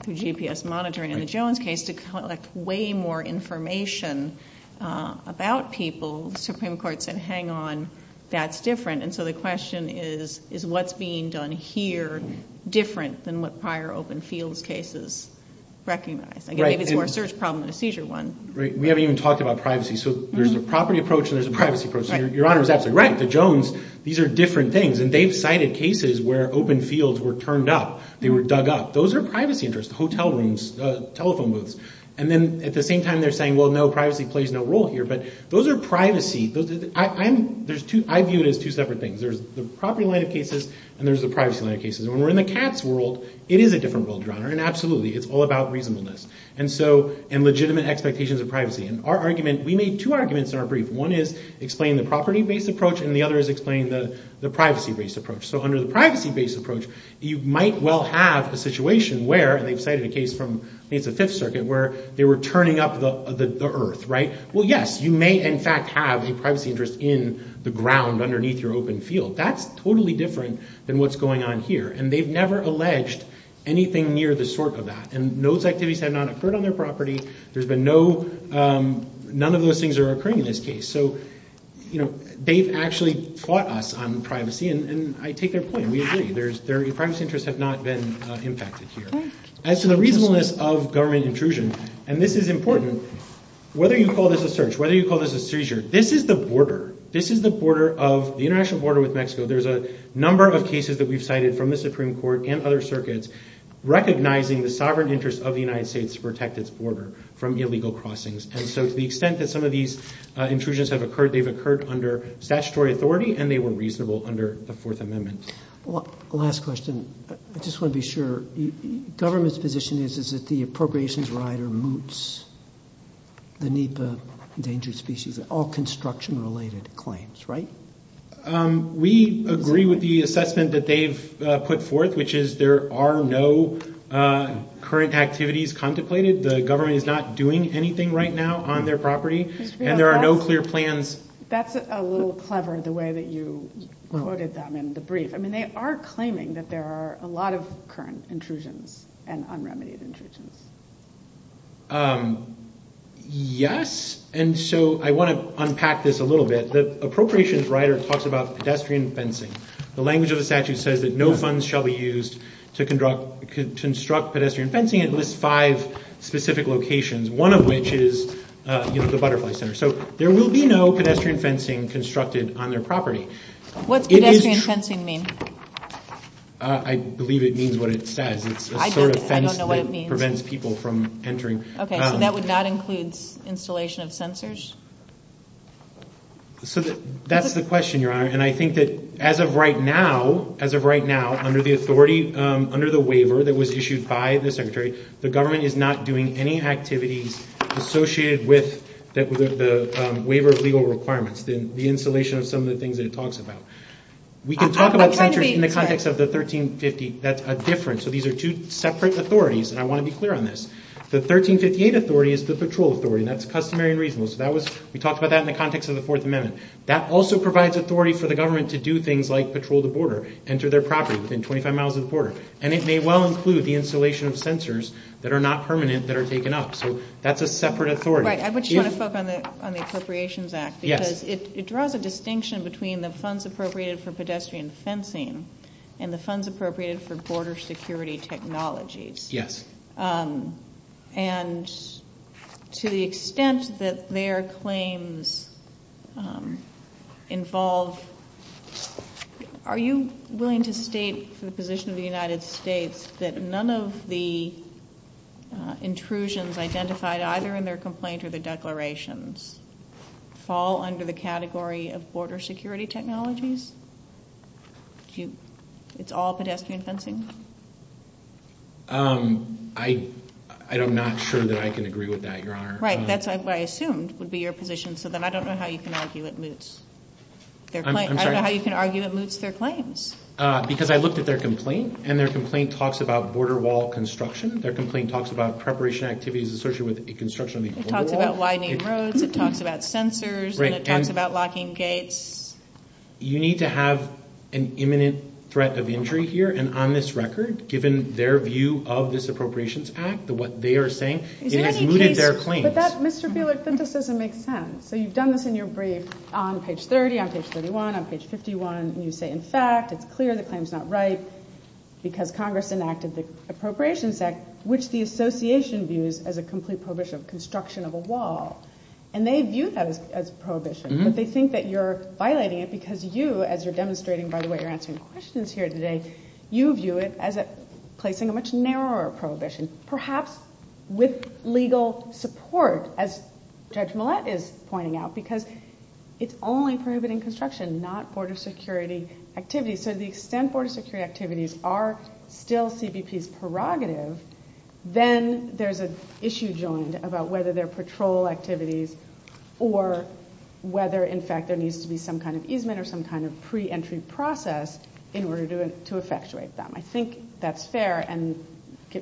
through GPS monitoring in the Jones case to collect way more information about people, the Supreme Court said, hang on, that's different. And so the question is, is what's being done here different than what prior open field cases recognize? I mean, it's more a search problem than a seizure one. We haven't even talked about privacy. So there's a property approach and there's a privacy approach. Your Honor, is that correct? The Jones, these are different things. And they've cited cases where open fields were turned up, they were dug up. Those are privacy interests, hotel rooms, telephone booths. And then, at the same time, they're saying, well, no, privacy plays no role here. But those are privacy. I view it as two separate things. There's the property line of cases and there's the privacy line of cases. And when we're in the cat's world, it is a different world, Your Honor, and absolutely. It's all about reasonableness. And so, and legitimate expectations of privacy. And our argument, we made two arguments in our brief. One is explaining the property-based approach and the other is explaining the privacy-based approach. So under the privacy-based approach, you might well have the situation where, and they've cited a case from, I think it's the Fifth Circuit, where they were turning up the earth, right? Well, yes, you may in fact have a privacy interest in the ground underneath your open field. That's totally different than what's going on here. And they've never alleged anything near the sort of that. And those activities have not occurred on their property. There's been no, none of those things are occurring in this case. So, you know, they've actually fought us on privacy and I take their point and we agree. Their privacy interests have not been impacted here. And so the reasonableness of government intrusion, and this is important, whether you call this a search, whether you call this a seizure, this is the border. This is the border of, the international border with Mexico. There's a number of cases that we've cited from the Supreme Court and other circuits recognizing the sovereign interest of the United States to protect its border from illegal crossings. And so to the extent that some of these intrusions have occurred, they've occurred under statutory authority and they were reasonable under the Fourth Amendment. Well, last question. I just want to be sure. Government's position is that the appropriations rider moots beneath the endangered species, all construction related claims, right? We agree with the assessment that they've put forth, which is there are no current activities contemplated. The government is not doing anything right now on their property and there are no clear plans. That's a little clever the way that you quoted them in the brief. I mean, they are claiming that there are a lot of current intrusions and unremitted intrusions. Yes, and so I want to unpack this a little bit. The appropriations rider talks about pedestrian fencing. The language of the statute says that no funds shall be used to construct pedestrian fencing. It lists five specific locations, one of which is the Butterfly Center. So there will be no pedestrian fencing constructed on their property. What does pedestrian fencing mean? I believe it means what it says. I don't know what it means. It's a sort of fence that prevents people from entering. Okay, so that would not include installation of sensors? So that's the question, Your Honor, and I think that as of right now, as of right now, under the authority, under the waiver that was issued by the Secretary, the government is not doing any activities associated with the waiver's legal requirements, the installation of some of the things that it talks about. We can talk about it in the context of the 1350. That's a difference. So these are two separate authorities, and I want to be clear on this. The 1358 authority is the patrol authority. That's customary and reasonable. So we talked about that in the context of the Fourth Amendment. That also provides authority for the government to do things like patrol the border, enter their property within 25 miles of the border, and it may well include the installation of sensors that are not permanent that are taken up. So that's a separate authority. Right. I just want to focus on the Appropriations Act because it draws a distinction between the funds appropriated for pedestrian fencing and the funds appropriated for border security technologies. Yes. And to the extent that their claims involve, are you willing to state the position of the United States that none of the intrusions identified either in their complaint or the declarations fall under the category of border security technologies? It's all pedestrian fencing? I'm not sure that I can agree with that, Your Honor. Right. That's what I assumed would be your position. I don't know how you can argue it moots their claims. Because I looked at their complaint, and their complaint talks about border wall construction. Their complaint talks about preparation activities associated with the construction of the border wall. It talks about widening roads. It talks about sensors. It talks about locking gates. You need to have an imminent threat of injury here, and on this record, given their view of this Appropriations Act, what they are saying, it has mooted their claim. But that, Mr. Buehler, doesn't make sense. So you've done this in your brief on page 30, on page 31, on page 51, and you say, in fact, it's clear the claim is not right because Congress enacted the Appropriations Act, which the association views as a complete prohibition of construction of a wall. And they view that as a prohibition. But they think that you're violating it because you, as you're demonstrating, by the way, you're answering questions here today, you view it as placing a much narrower prohibition, perhaps with legal support, as Judge Millett is pointing out, because it's only prohibiting construction, not border security activities. So to the extent border security activities are still CBP's prerogatives, then there's an issue joined about whether they're patrol activities or whether, in fact, there needs to be some kind of easement or some kind of pre-entry process in order to effectuate them. I think that's fair, and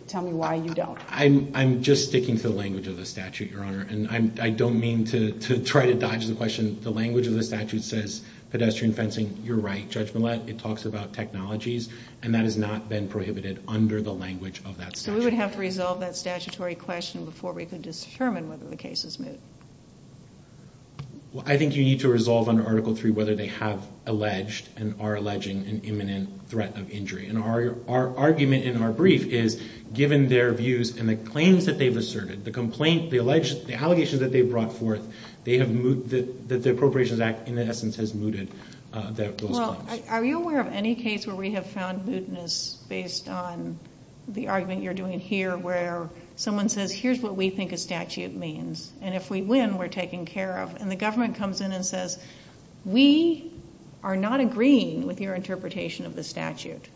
tell me why you don't. I'm just sticking to the language of the statute, Your Honor, and I don't mean to try to dodge the question. The language of the statute says pedestrian fencing, you're right, Judge Millett, it talks about technologies, and that has not been prohibited under the language of that statute. So we would have to resolve that statutory question before we can determine whether the case is moot. Well, I think you need to resolve under Article 3 whether they have alleged and are alleging an imminent threat of injury. And our argument in our brief is, given their views and the claims that they've asserted, the complaints, the allegations that they've brought forth, they have mooted, the Appropriations Act, in essence, has mooted those claims. Are you aware of any case where we have found mootness based on the argument you're doing here where someone says, here's what we think a statute means, and if we win we're taken care of, and the government comes in and says, we are not agreeing with your interpretation of the statute.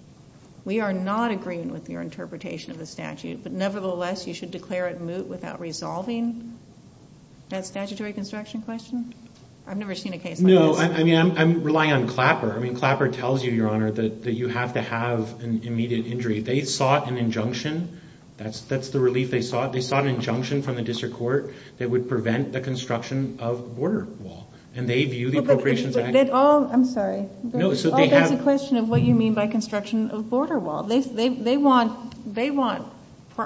We are not agreeing with your interpretation of the statute, but nevertheless you should declare it moot without resolving that statutory construction question? I've never seen a case like that. No, I mean, I'm relying on Clapper. I mean, Clapper tells you, Your Honor, that you have to have an immediate injury. They sought an injunction. That's the relief they sought. They sought an injunction from the district court that would prevent the construction of border wall. And they view the Appropriations Act... I'm sorry. No, so they have... That's the question of what you mean by construction of border wall. They want...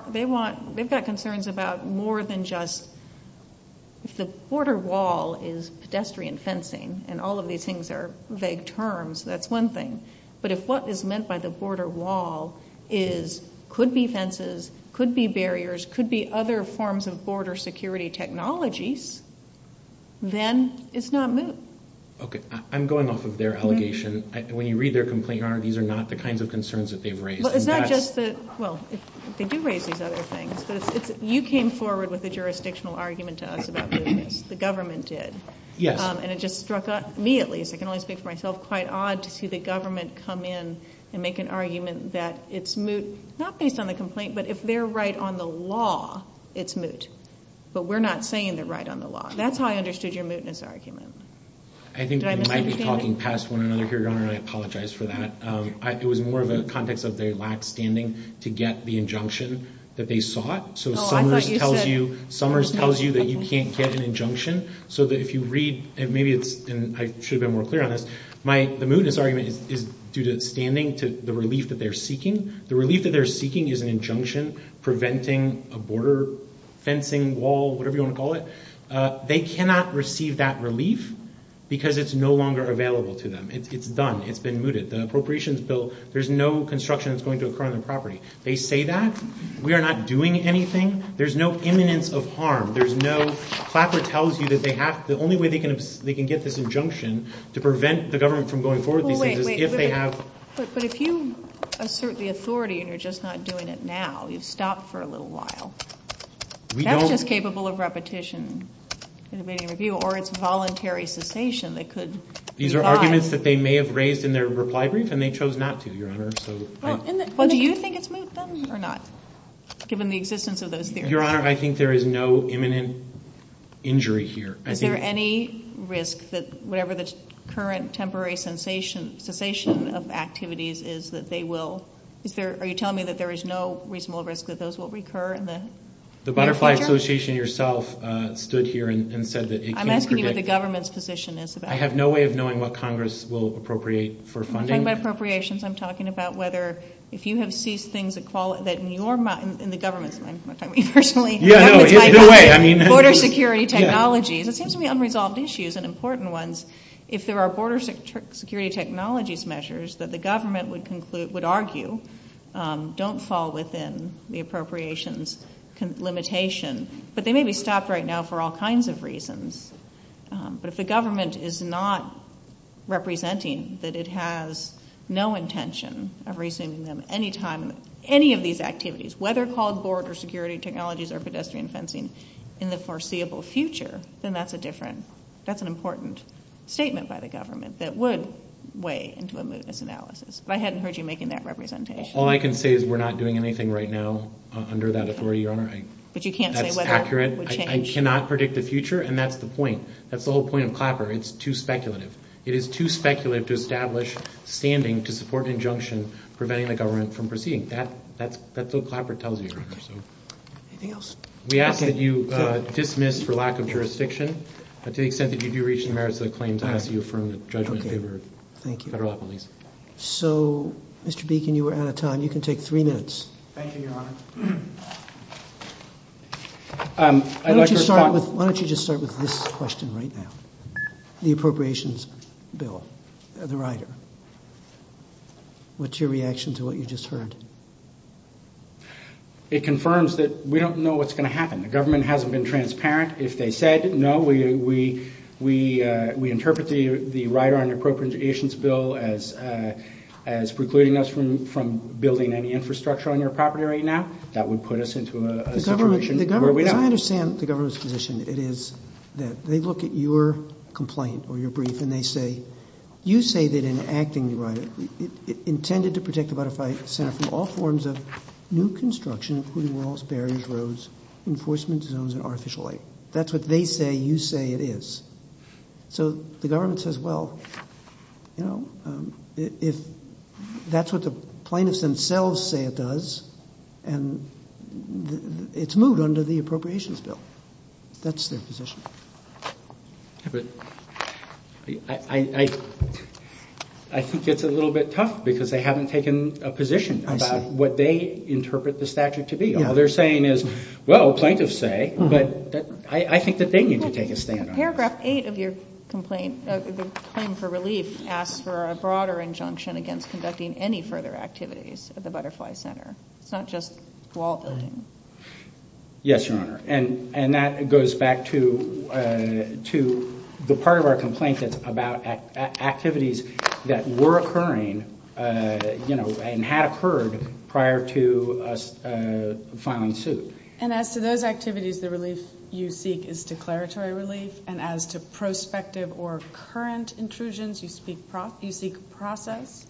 They've got concerns about more than just... If the border wall is pedestrian fencing, and all of these things are vague terms, that's one thing, but if what is meant by the border wall could be fences, could be barriers, could be other forms of border security technologies, then it's not moot. Okay. I'm going off of their allegation. When you read their complaint, Your Honor, these are not the kinds of concerns that they've raised. Well, it's not just the... Well, they do raise these other things. You came forward with a jurisdictional argument to us about mootness. The government did. Yes. And it just struck me, at least. I can only speak for myself, quite odd to see the government come in and make an argument that it's moot, not based on a complaint, but if they're right on the law, it's moot. But we're not saying they're right on the law. That's how I understood your mootness argument. I think we might be talking past one another here, Your Honor, and I apologize for that. It was more in the context that they lacked standing to get the injunction that they sought. So Summers tells you that you can't get an injunction, so that if you read, and maybe I should have been more clear on this, the mootness argument is due to standing, to the relief that they're seeking. The relief that they're seeking is an injunction preventing a border fencing wall, whatever you want to call it. They cannot receive that relief because it's no longer available to them. It's done. It's been mooted. The appropriations bill, there's no construction that's going to occur on their property. They say that. We are not doing anything. There's no imminence of harm. There's no, Clapper tells you that they have, the only way they can get this injunction to prevent the government from going forward with these things is if they have. But if you assert the authority and you're just not doing it now, you stop for a little while. That's just capable of repetition. Or it's voluntary cessation. These are arguments that they may have raised in their reply brief and they chose not to, Your Honor. Well, do you think it's moot then or not, given the existence of those hearings? Your Honor, I think there is no imminent injury here. Is there any risk that whatever the current temporary cessation of activities is that they will, are you telling me that there is no reasonable risk that those will recur in the future? The Butterfly Association yourself stood here and said that it can predict. I'm asking you what the government's position is about it. I have no way of knowing what Congress will appropriate for funding. You're talking about appropriations. I'm talking about whether, if you have seized things that in your mind, in the government's mind, which I mean personally. Yeah, no, either way, I mean. Border security technologies. There seems to be unresolved issues and important ones. If there are border security technologies measures that the government would argue don't fall within the appropriations limitation, but they may be stopped right now for all kinds of reasons, but if the government is not representing that it has no intention of resuming any of these activities, whether called border security technologies or pedestrian fencing in the foreseeable future, then that's a different, that's an important statement by the government that would weigh into a movements analysis. But I hadn't heard you making that representation. All I can say is we're not doing anything right now under that authority, Your Honor. But you can't say whether it will change? That's accurate. I cannot predict the future, and that's the point. That's the whole point of Clapper. It's too speculative. It is too speculative to establish standing to support an injunction preventing the government from proceeding. That's what Clapper tells you, Your Honor. Anything else? We ask that you dismiss for lack of jurisdiction. To the extent that you do reach the merits of the claims, we ask that you affirm the judge's favor. Thank you. Federal police. So, Mr. Beacon, you are out of time. You can take three minutes. Thank you, Your Honor. Why don't you just start with this question right now? The appropriations bill, the rider. What's your reaction to what you just heard? It confirms that we don't know what's going to happen. The government hasn't been transparent. If they said, no, we interpret the rider on the appropriations bill as precluding us from building any infrastructure on your property right now, that would put us into a situation where we don't. I understand the government's position. It is that they look at your complaint or your brief and they say, you say that in acting the rider, it intended to protect the modified center from all forms of new construction, including walls, barriers, roads, enforcement zones, and artificial light. That's what they say you say it is. So, the government says, well, you know, if that's what the plaintiffs themselves say it does, and it's moved under the appropriations bill. That's their position. I think it's a little bit tough because they haven't taken a position about what they interpret the statute to be. All they're saying is, well, plaintiffs say, but I think that they need to take a stand. Paragraph 8 of your complaint, the claim for relief, asks for a broader injunction against conducting any further activities at the Butterfly Center, not just wall building. Yes, Your Honor. And that goes back to the part of our complaint that's about activities that were occurring and had occurred prior to us filing suit. And as to those activities, the relief you seek is declaratory relief. And as to prospective or current intrusions, you seek process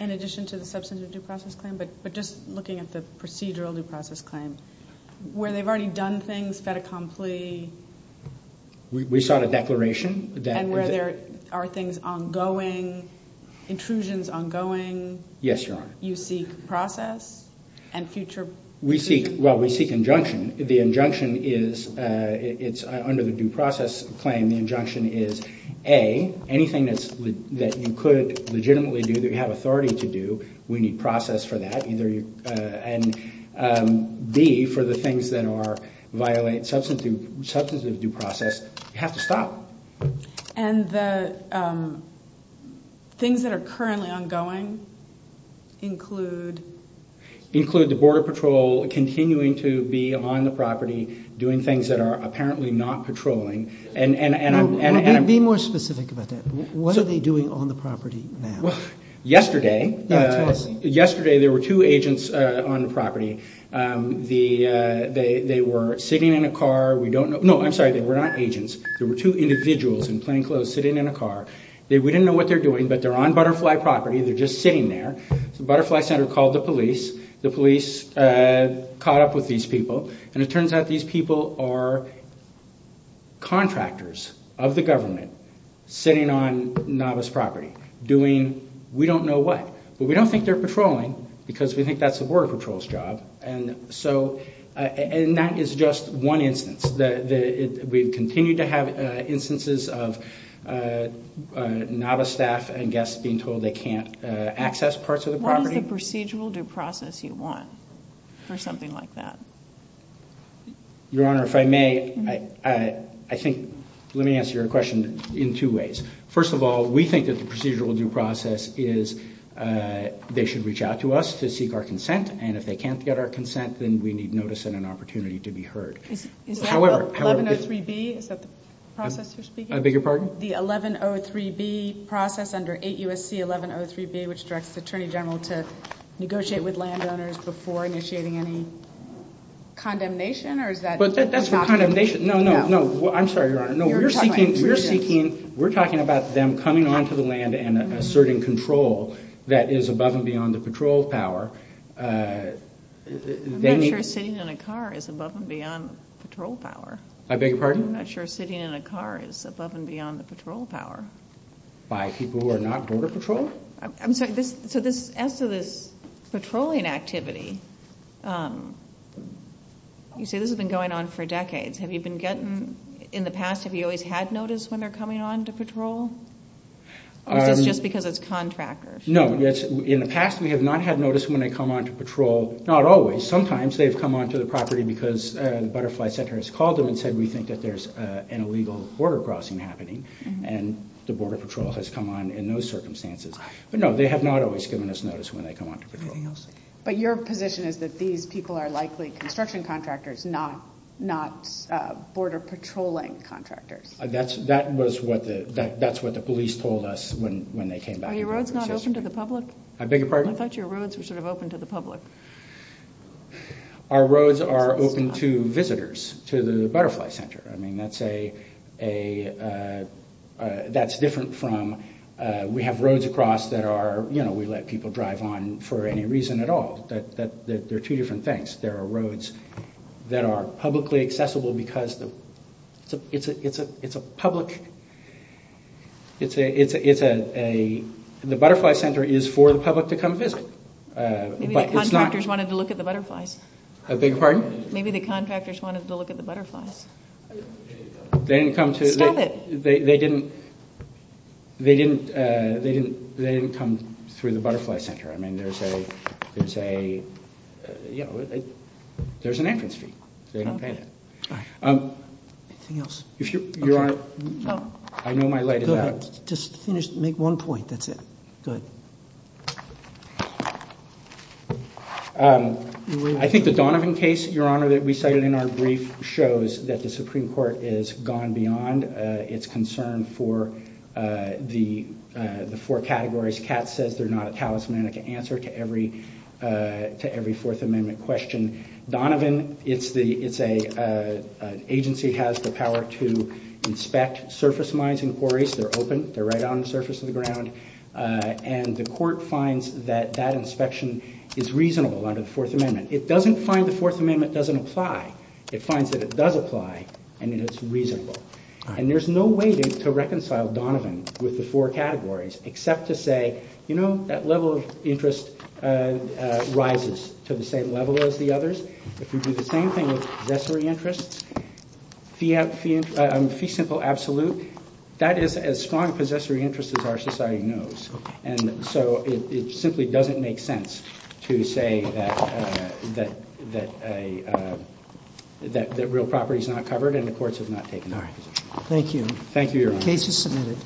in addition to the substantive due process claim. But just looking at the procedural due process claim, where they've already done things that are completely... We sought a declaration that... And where there are things ongoing, intrusions ongoing... Yes, Your Honor. You seek process and future... Well, we seek injunction. The injunction is under the due process claim. The injunction is, A, anything that you could legitimately do that you have authority to do, we need process for that. And B, for the things that violate substantive due process, you have to stop. And the things that are currently ongoing include... Continuing to be on the property, doing things that are apparently not patrolling and... Be more specific about that. What are they doing on the property now? Yesterday, there were two agents on the property. They were sitting in a car. We don't know... No, I'm sorry. They were not agents. There were two individuals in plain clothes sitting in a car. We didn't know what they were doing, but they're on Butterfly property. They're just sitting there. Butterfly Center called the police. The police caught up with these people. And it turns out these people are contractors of the government sitting on NADA's property doing we don't know what. But we don't think they're patrolling because we think that's the Border Patrol's job. And that is just one instance. We continue to have instances of NADA staff and guests being told they can't access parts of the property. What is the procedural due process you want for something like that? Your Honor, if I may, I think... Let me answer your question in two ways. First of all, we think that the procedural due process is they should reach out to us to seek our consent. And if they can't get our consent, then we need notice and an opportunity to be heard. 1103B, is that the process you're speaking of? I beg your pardon? The 1103B process under 8 U.S.C. 1103B, which directs the Attorney General to negotiate with landowners before initiating any condemnation, or is that... But that's the condemnation. No, no, no. I'm sorry, Your Honor. We're talking about them coming onto the land and asserting control that is above and beyond the patrol power. I'm not sure sitting in a car is above and beyond patrol power. I beg your pardon? I'm not sure sitting in a car is above and beyond the patrol power. By people who are not border patrol? I'm sorry. As to the patrolling activity, you say this has been going on for decades. Have you been getting... In the past, have you always had notice when they're coming onto patrol? Or is it just because it's contractors? No. In the past, we have not had notice when they come onto patrol. Not always. Well, sometimes they've come onto the property because the Butterfly Center has called them and said, we think that there's an illegal border crossing happening, and the Border Patrol has come on in those circumstances. But no, they have not always given us notice when they come onto patrol. But your position is that these people are likely construction contractors, not border patrolling contractors. That's what the police told us when they came back. Are your roads not open to the public? I beg your pardon? I thought your roads were sort of open to the public. Our roads are open to visitors to the Butterfly Center. I mean, that's different from... We have roads across that are, you know, we let people drive on for any reason at all. They're two different things. There are roads that are publicly accessible because it's a public... The Butterfly Center is for the public to come visit. Maybe the contractors wanted to look at the butterflies. I beg your pardon? Maybe the contractors wanted to look at the butterflies. They didn't come to... Stop it. They didn't come through the Butterfly Center. I mean, there's a, you know, there's an entrance fee. They don't pay it. Anything else? Your Honor, I know my light is out. Just make one point. That's it. Go ahead. I think the Donovan case, Your Honor, that we cited in our brief shows that the Supreme Court is gone beyond its concern for the four categories. Kat says they're not a talismanic answer to every Fourth Amendment question. Donovan, it's an agency that has the power to inspect surface mines and quarries. They're open. They're right on the surface of the ground. And the court finds that that inspection is reasonable under the Fourth Amendment. It doesn't find the Fourth Amendment doesn't apply. It finds that it does apply and that it's reasonable. And there's no way to reconcile Donovan with the four categories except to say, you know, that level of interest rises to the same level as the others. If you do the same thing with possessory interests, fee simple absolute, that is as strong a possessory interest as our society knows. And so it simply doesn't make sense to say that real property is not covered and the courts have not taken notice. Thank you. Thank you, Your Honor. Case is submitted.